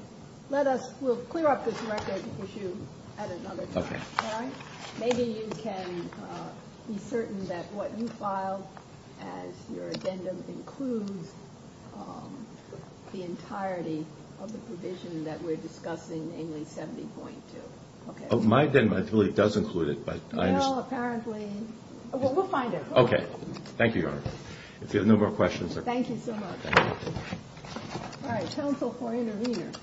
We'll clear up this record issue at another time. All right? Maybe you can be certain that what you filed as your addendum includes the entirety of the provision that we're discussing, namely 70.2. My addendum really does include it. Well, apparently... We'll find it. Okay. Thank you, Your Honor. If you have no more questions... Thank you so much. All right, counsel for intervenors.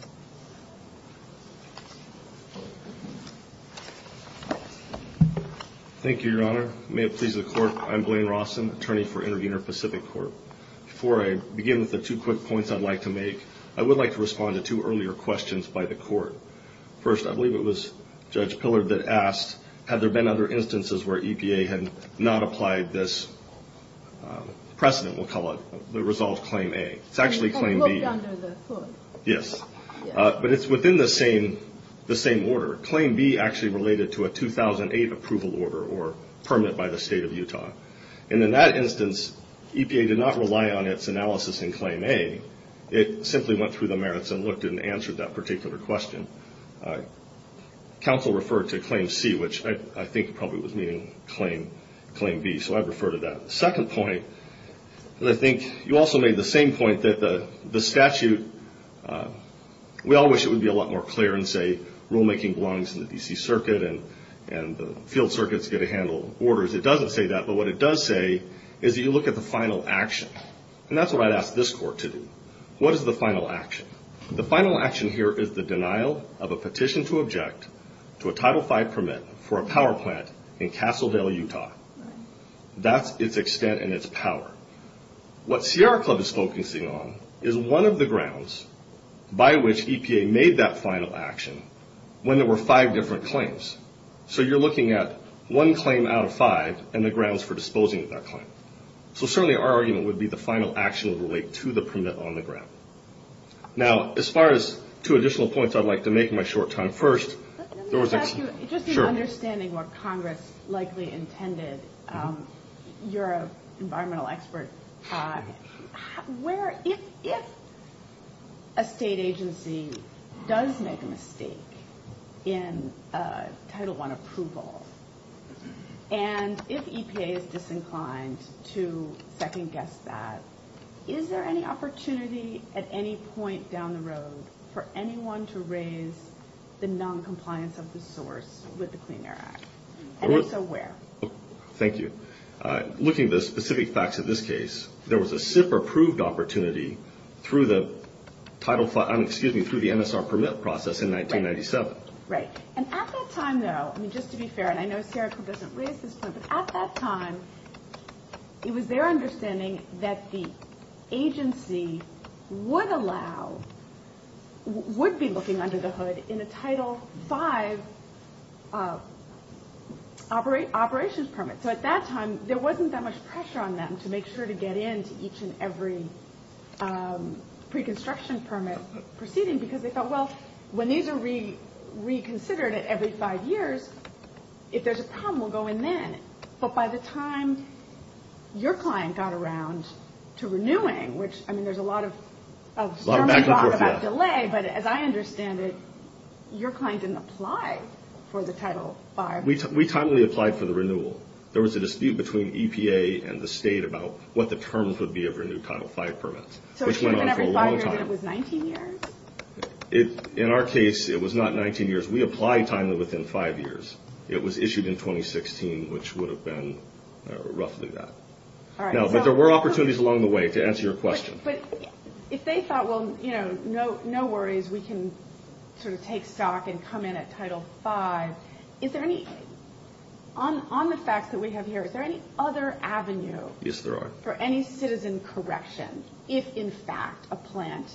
Thank you, Your Honor. May it please the Court, I'm Blaine Rawson, attorney for Intervenor Pacific Court. Before I begin with the two quick points I'd like to make, I would like to respond to two earlier questions by the Court. First, I believe it was Judge Pillard that asked, had there been other instances where EPA had not applied this precedent, we'll call it, that resolves Claim A. It's actually Claim B. It's under the hood. Yes. But it's within the same order. Claim B actually related to a 2008 approval order or permit by the State of Utah. And in that instance, EPA did not rely on its analysis in Claim A. It simply went through the merits and looked and answered that particular question. Counsel referred to Claim C, which I think probably was meaning Claim B. So I refer to that. The second point, I think you also made the same point that the statute, we all wish it would be a lot more clear and say rulemaking belongs to the D.C. Circuit and the field circuits get to handle orders. It doesn't say that. But what it does say is that you look at the final action. And that's what I'd ask this court to do. What is the final action? The final action here is the denial of a petition to object to a Title V permit for a power plant in Castledale, Utah. That's its extent and its power. What CR Club is focusing on is one of the grounds by which EPA made that final action when there were five different claims. So you're looking at one claim out of five and the grounds for disposing of that claim. So certainly our argument would be the final action would relate to the permit on the ground. Now, as far as two additional points, I'd like to make in my short time first. Let me ask you, just in understanding what Congress likely intended, you're an environmental expert, Todd, where if a state agency does make a mistake in Title I approval and if EPA is disinclined to second-guess that, is there any opportunity at any point down the road for anyone to raise the noncompliance of the source with the Clean Air Act? And if so, where? Thank you. Looking at the specific facts of this case, there was a SIP-approved opportunity through the MSR permit process in 1997. Right. And at that time, though, just to be fair, and I know Sarah provisionally assists, but at that time it was their understanding that the agency would allow, would be looking under the hood in a Title V operations permit. So at that time there wasn't that much pressure on them to make sure to get into each and every pre-construction permit proceeding because they thought, well, when these are reconsidered at every five years, if there's a problem, we'll go in then. But by the time your client got around to renewing, which, I mean, there's a lot of talk about delay, but as I understand it, your client didn't apply for the Title V. We timely applied for the renewal. There was a dispute between EPA and the state about what the terms would be of a new Title V permit, which went on for a long time. And it was 19 years? In our case, it was not 19 years. We applied timely within five years. It was issued in 2016, which would have been roughly that. But there were opportunities along the way to answer your question. But if they thought, well, you know, no worries, we can sort of take stock and come in at Title V, is there any, on the facts that we have here, is there any other avenue for any citizen correction if, in fact, a plant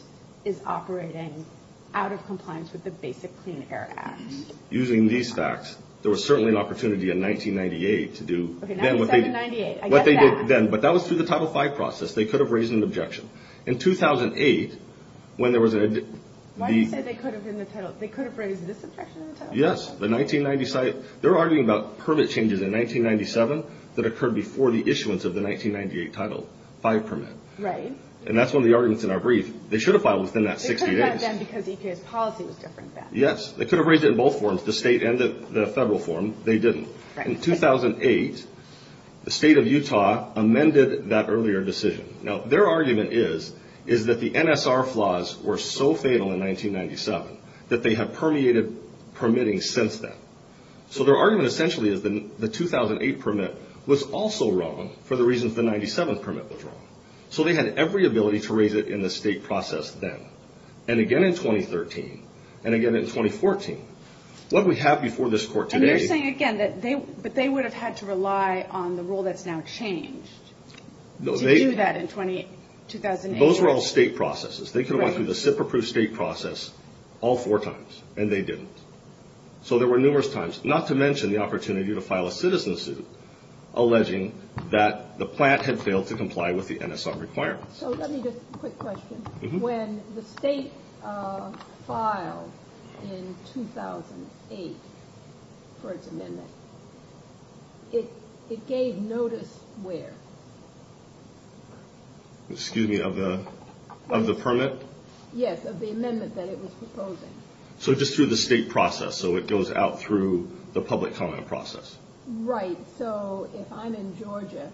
is operating out of compliance with the basic clean air act? Using these facts, there was certainly an opportunity in 1998 to do what they did then. But that was through the Title V process. They could have raised an objection. In 2008, when there was a... Why do you say they could have raised an objection? They could have raised this objection? Yes. They're arguing about permit changes in 1997 that occurred before the issuance of the 1998 Title V permit. Right. And that's one of the arguments in our brief. They should have filed within that six years. Because EPA's policy was different then. Yes. They could have raised it in both forms, the state and the federal form. They didn't. In 2008, the state of Utah amended that earlier decision. Now, their argument is that the NSR flaws were so fatal in 1997 that they have permeated permitting since then. So their argument essentially is that the 2008 permit was also wrong for the reasons the 1997 permit was wrong. So they had every ability to raise it in the state process then. And again in 2013. And again in 2014. What we have before this court today... And they're saying again that they would have had to rely on the rule that's now changed to do that in 2008. Those were all state processes. They could have went through the SIP-approved state process all four times. And they didn't. So there were numerous times. Not to mention the opportunity to file a citizen suit alleging that the plant had failed to comply with the NSR requirements. So let me just... A quick question. When the state filed in 2008 the first amendment, it gave notice where? Excuse me. Of the permit? Yes. Of the amendment that it was proposing. So just through the state process. So it goes out through the public comment process. Right. So if I'm in Georgia,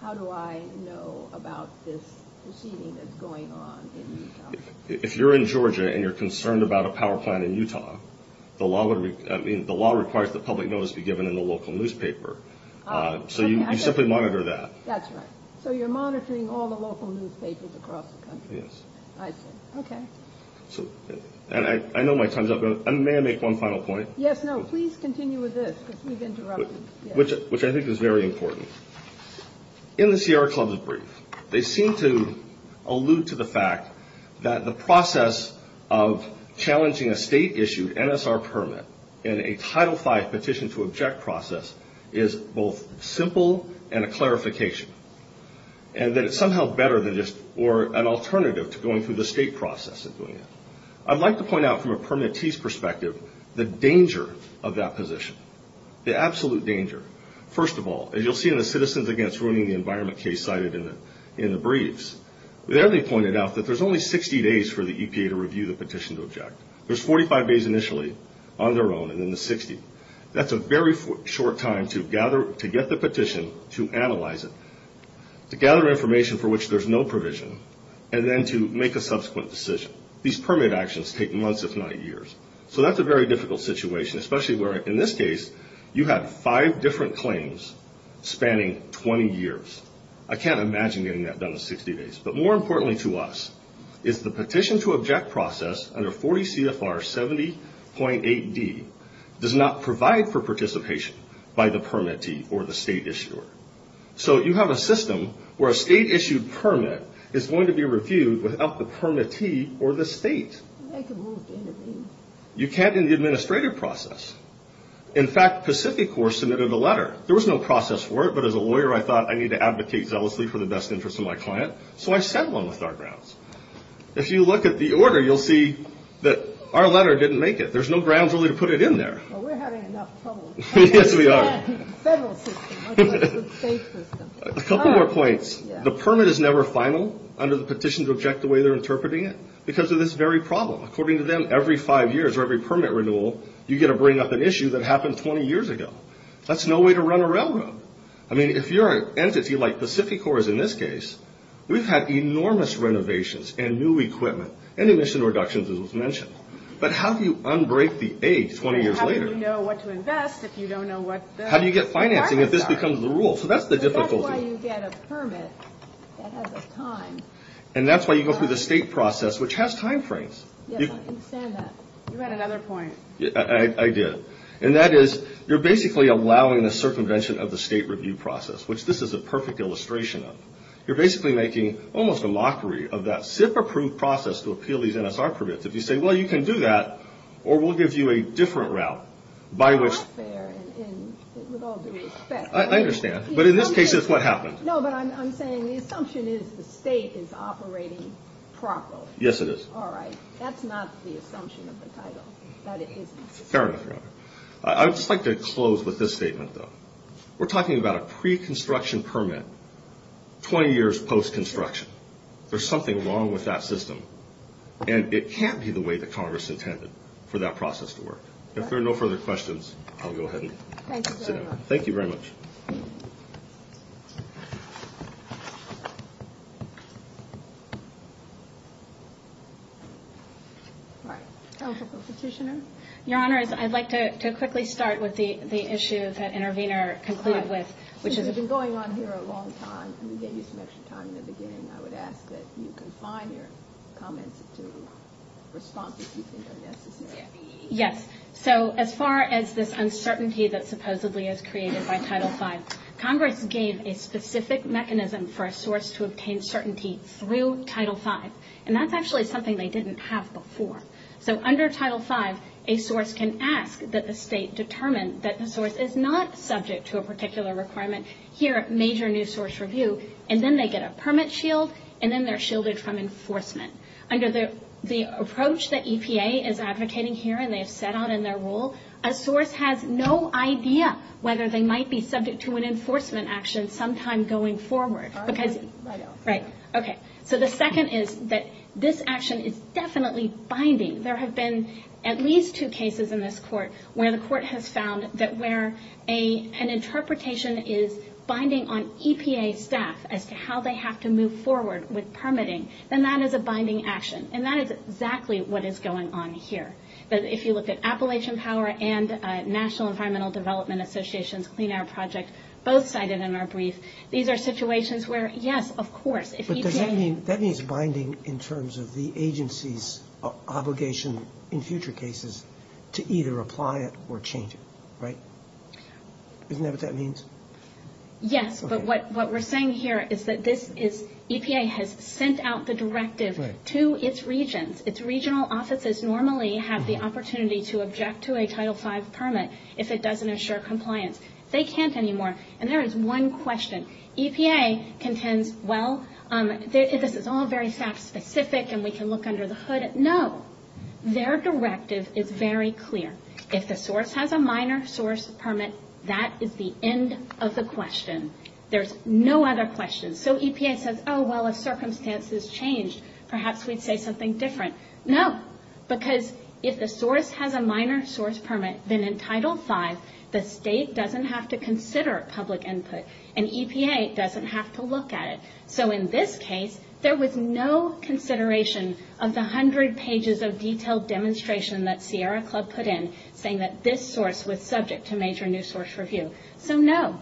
how do I know about this proceeding that's going on in Utah? If you're in Georgia and you're concerned about a power plant in Utah, the law requires that public notice be given in the local newspaper. So you simply monitor that. That's right. So you're monitoring all the local newspapers across the country. Yes. I see. Okay. I know my time's up. May I make one final point? Yes, no. Please continue with this. We've interrupted. Which I think is very important. In the Sierra Club's brief, they seem to allude to the fact that the process of challenging a state-issued NSR permit and a Title V petition to object process is both simple and a clarification. And that it's somehow better than this or an alternative to going through the state process of doing it. I'd like to point out from a permittee's perspective the danger of that position, the absolute danger. First of all, as you'll see in the Citizens Against Ruining the Environment case cited in the briefs, there they pointed out that there's only 60 days for the EPA to review the petition to object. There's 45 days initially on their own and then the 60th. That's a very short time to get the petition, to analyze it, to gather information for which there's no provision, and then to make a subsequent decision. These permit actions take months if not years. So that's a very difficult situation, especially where, in this case, you have five different claims spanning 20 years. I can't imagine getting that done in 60 days. But more importantly to us is the petition to object process under 40 CFR 70.8D does not provide for participation by the permittee or the state issuer. So you have a system where a state-issued permit is going to be reviewed without the permittee or the state. You can't in the administrative process. In fact, Pacific Corps submitted a letter. There was no process for it, but as a lawyer I thought I need to advocate zealously for the best interest of my client, so I sent one with our grounds. If you look at the order, you'll see that our letter didn't make it. There's no grounds really to put it in there. Well, we're having enough trouble. Yes, we are. Federal system, not the state system. A couple more points. The permit is never final under the petition to object the way they're interpreting it because of this very problem. According to them, every five years or every permit renewal, you get to bring up an issue that happened 20 years ago. That's no way to run a railroad. I mean, if you're an entity like Pacific Corps is in this case, we've had enormous renovations and new equipment and emission reductions, as was mentioned. But how do you unbreak the age 20 years later? How do you know what to invest if you don't know what to invest? How do you get financing if this becomes the rule? So that's the difficulty. That's why you get a permit that has a time. And that's why you go through the state process, which has timeframes. Yes, I can stand that. You had another point. I did. And that is you're basically allowing the circumvention of the state review process, which this is a perfect illustration of. You're basically making almost a mockery of that SIP-approved process to appeal these NSR permits. If you say, well, you can do that, or we'll give you a different route. That's fair, and it would all be expected. I understand. But in this case, it's what happens. No, but I'm saying the assumption is the state is operating properly. Yes, it is. All right. That's not the assumption of the title. Fair enough. I would just like to close with this statement, though. We're talking about a pre-construction permit 20 years post-construction. There's something wrong with that system, and it can't be the way that Congress intended for that process to work. If there are no further questions, I'll go ahead and sit down. Thank you very much. All right. Counsel for Petitioner. Your Honors, I'd like to quickly start with the issue that Intervenor concluded with, which is the ______. This has been going on here a long time, and we gave you so much time in the beginning. I would ask that you confine your comments to responses you think are necessary. Yes. So as far as this uncertainty that supposedly is created by Title V, Congress gave a specific mechanism for a source to obtain certainty through Title V. And that's actually something they didn't have before. So under Title V, a source can ask that the state determine that the source is not subject to a particular requirement here at major new source review, and then they get a permit shield, and then they're shielded from enforcement. Under the approach that EPA is advocating here, and they've set out in their rule, a source has no idea whether they might be subject to an enforcement action sometime going forward. Right. Right. Okay. So the second is that this action is definitely binding. There have been at least two cases in this court where the court has found that where an interpretation is binding on EPA staff as to how they have to move forward with permitting, then that is a binding action. And that is exactly what is going on here. If you look at Appalachian Power and National Environmental Development Association's Clean Air Project, both cited in our brief, these are situations where, yes, of course, if EPA – But that means binding in terms of the agency's obligation in future cases to either apply it or change it. Right? Isn't that what that means? Yes. But what we're saying here is that this is – EPA has sent out the directive to its regions. Its regional offices normally have the opportunity to object to a Title V permit if it doesn't assure compliance. They can't anymore. And there is one question. EPA contends, well, if it's all very fact-specific and we can look under the hood. No. Their directive is very clear. If the source has a minor source permit, that is the end of the question. There's no other question. So EPA says, oh, well, if circumstances change, perhaps we say something different. No. Because if the source has a minor source permit, then in Title V, the state doesn't have to consider public input. And EPA doesn't have to look at it. So in this case, there was no consideration of the hundred pages of detailed demonstration that Sierra Club put in, saying that this source was subject to major new source review. So no.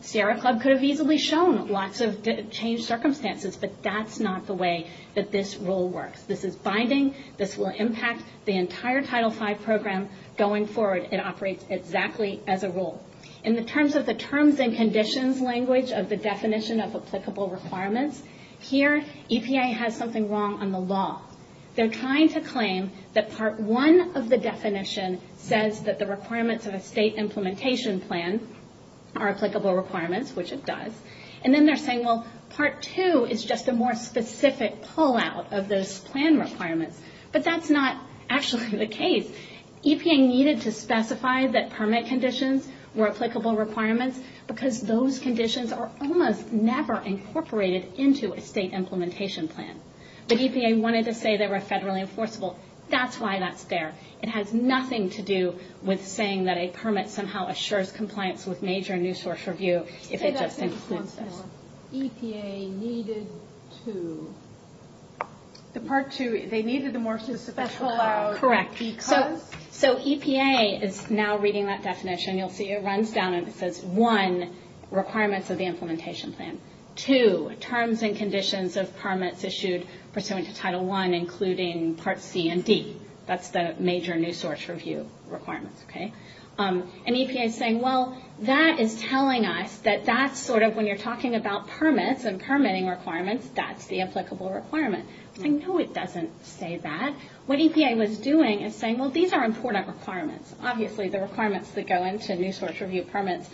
Sierra Club could have easily shown lots of changed circumstances, but that's not the way that this rule works. This is binding. This will impact the entire Title V program going forward. It operates exactly as a rule. In the terms of the terms and conditions language of the definition of applicable requirements, here EPA has something wrong on the law. They're trying to claim that Part I of the definition says that the requirements of a state implementation plan are applicable requirements, which it does. And then they're saying, well, Part II is just a more specific pullout of this plan requirement. But that's not actually the case. EPA needed to specify that permit conditions were applicable requirements because those conditions are almost never incorporated into a state implementation plan. The EPA wanted to say they were federally enforceable. That's why that's there. It has nothing to do with saying that a permit somehow assures compliance with major new source review. EPA needed to. The Part II, they needed a more specific pullout. Correct. Because. So EPA is now reading that definition. You'll see it runs down and it says, one, requirements of the implementation plan. Two, terms and conditions of permits issued pursuant to Title I, including Part C and D. That's the major new source review requirements. And EPA is saying, well, that is telling us that that's sort of when you're talking about permits and permitting requirements, that's the applicable requirements. And no, it doesn't say that. What EPA was doing is saying, well, these are important requirements. Obviously, the requirements that go into new source review permits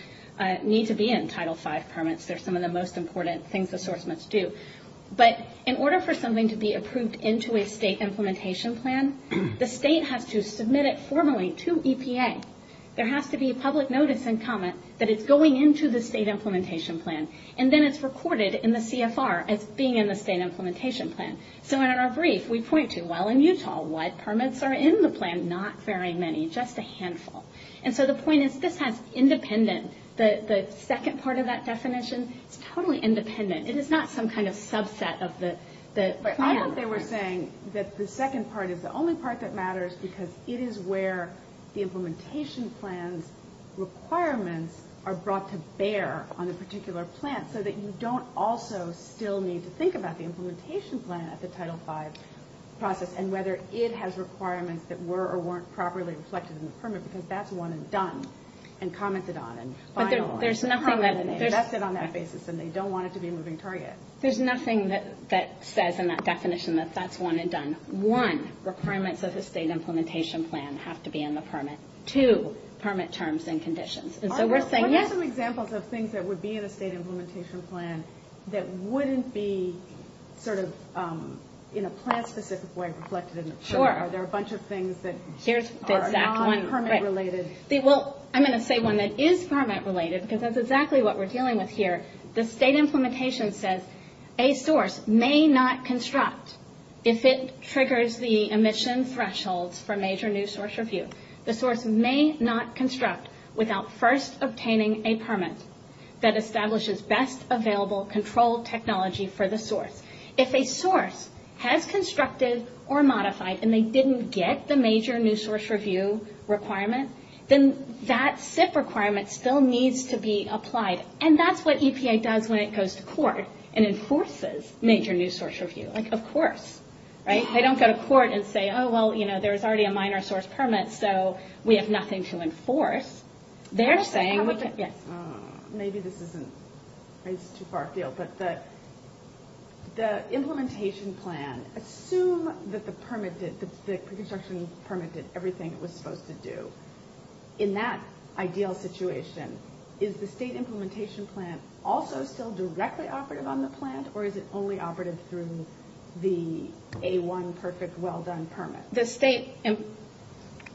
need to be in Title V permits. They're some of the most important things the source must do. But in order for something to be approved into a state implementation plan, the state has to submit it formally to EPA. There has to be public notice and comment that it's going into the state implementation plan. And then it's recorded in the CFR as being in the state implementation plan. So in our brief, we point to, well, in Utah, what permits are in the plan? Not very many. Just a handful. And so the point is, this has independent. The second part of that definition is totally independent. It is not some kind of subset of the plan. I think they were saying that the second part is the only part that matters because it is where the implementation plan requirements are brought to bear on a particular plan so that you don't also still need to think about the implementation plan at the Title V process and whether it has requirements that were or weren't properly reflected in the permit, because that's the one that's done and commented on and finalized. There's nothing that says in that definition. That's the one that's done. One, the permits of the state implementation plan have to be in the permit. Two, permit terms and conditions. And so we're saying yes. What are some examples of things that would be in a state implementation plan that wouldn't be sort of in a plan-specific way reflected in the permit? Sure. Are there a bunch of things that are not permit-related? Well, I'm going to say one that is permit-related because that's exactly what we're dealing with here. The state implementation says a source may not construct if it triggers the emission threshold for major new source review. The source may not construct without first obtaining a permit that establishes best available control technology for the source. If a source has constructed or modified and they didn't get the major new source review requirement, then that SIF requirement still needs to be applied. And that's what EPA does when it goes to court and enforces major new source review. Like, of course. Right? They don't go to court and say, oh, well, you know, there's already a minor source permit, so we have nothing to enforce. They're saying, look at this. Maybe this isn't too far afield. But the implementation plan, assume that the permit did, the construction permit did everything it was supposed to do. In that ideal situation, is the state implementation plan also still directly operative on the plant or is it only operative through the A1 perfect well-done permit? The state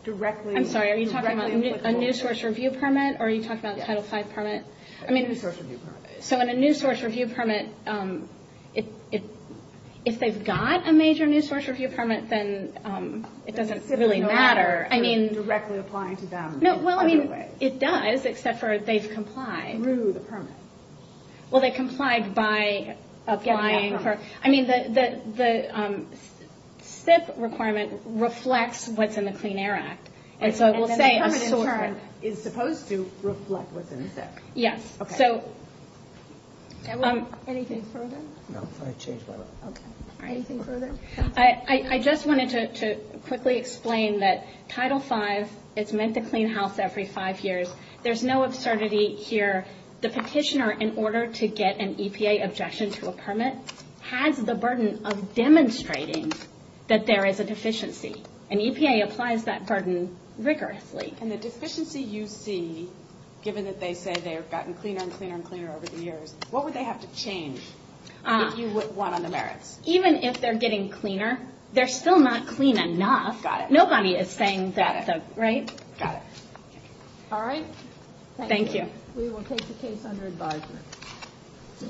directly... I'm sorry, are you talking about a new source review permit or are you talking about the Title V permit? A new source review permit. So in a new source review permit, if they've got a major new source review permit, then it doesn't really matter. I mean... Directly applying to them. No, well, I mean, it does, except for they've complied. Through the permit. Well, they've complied by applying for... I mean, the SIP requirement reflects what's in the Clean Air Act. And so we'll say... And then the permit is supposed to reflect what's in SIP. Yes. Okay. So... Anything further? No. I changed my mind. Okay. Anything further? I just wanted to quickly explain that Title V is meant to clean house every five years. There's no absurdity here. The petitioner, in order to get an EPA objection to a permit, has the burden of demonstrating that there is a deficiency. And EPA applies that burden rigorously. And the deficiency you see, given that they say they have gotten cleaner and cleaner and cleaner over the years, what would they have to change that you would want on the merits? Even if they're getting cleaner, they're still not clean enough. Got it. Nobody is saying that's a... Got it. Right? Got it. All right. Thank you. Thank you. We will take the case under advisory.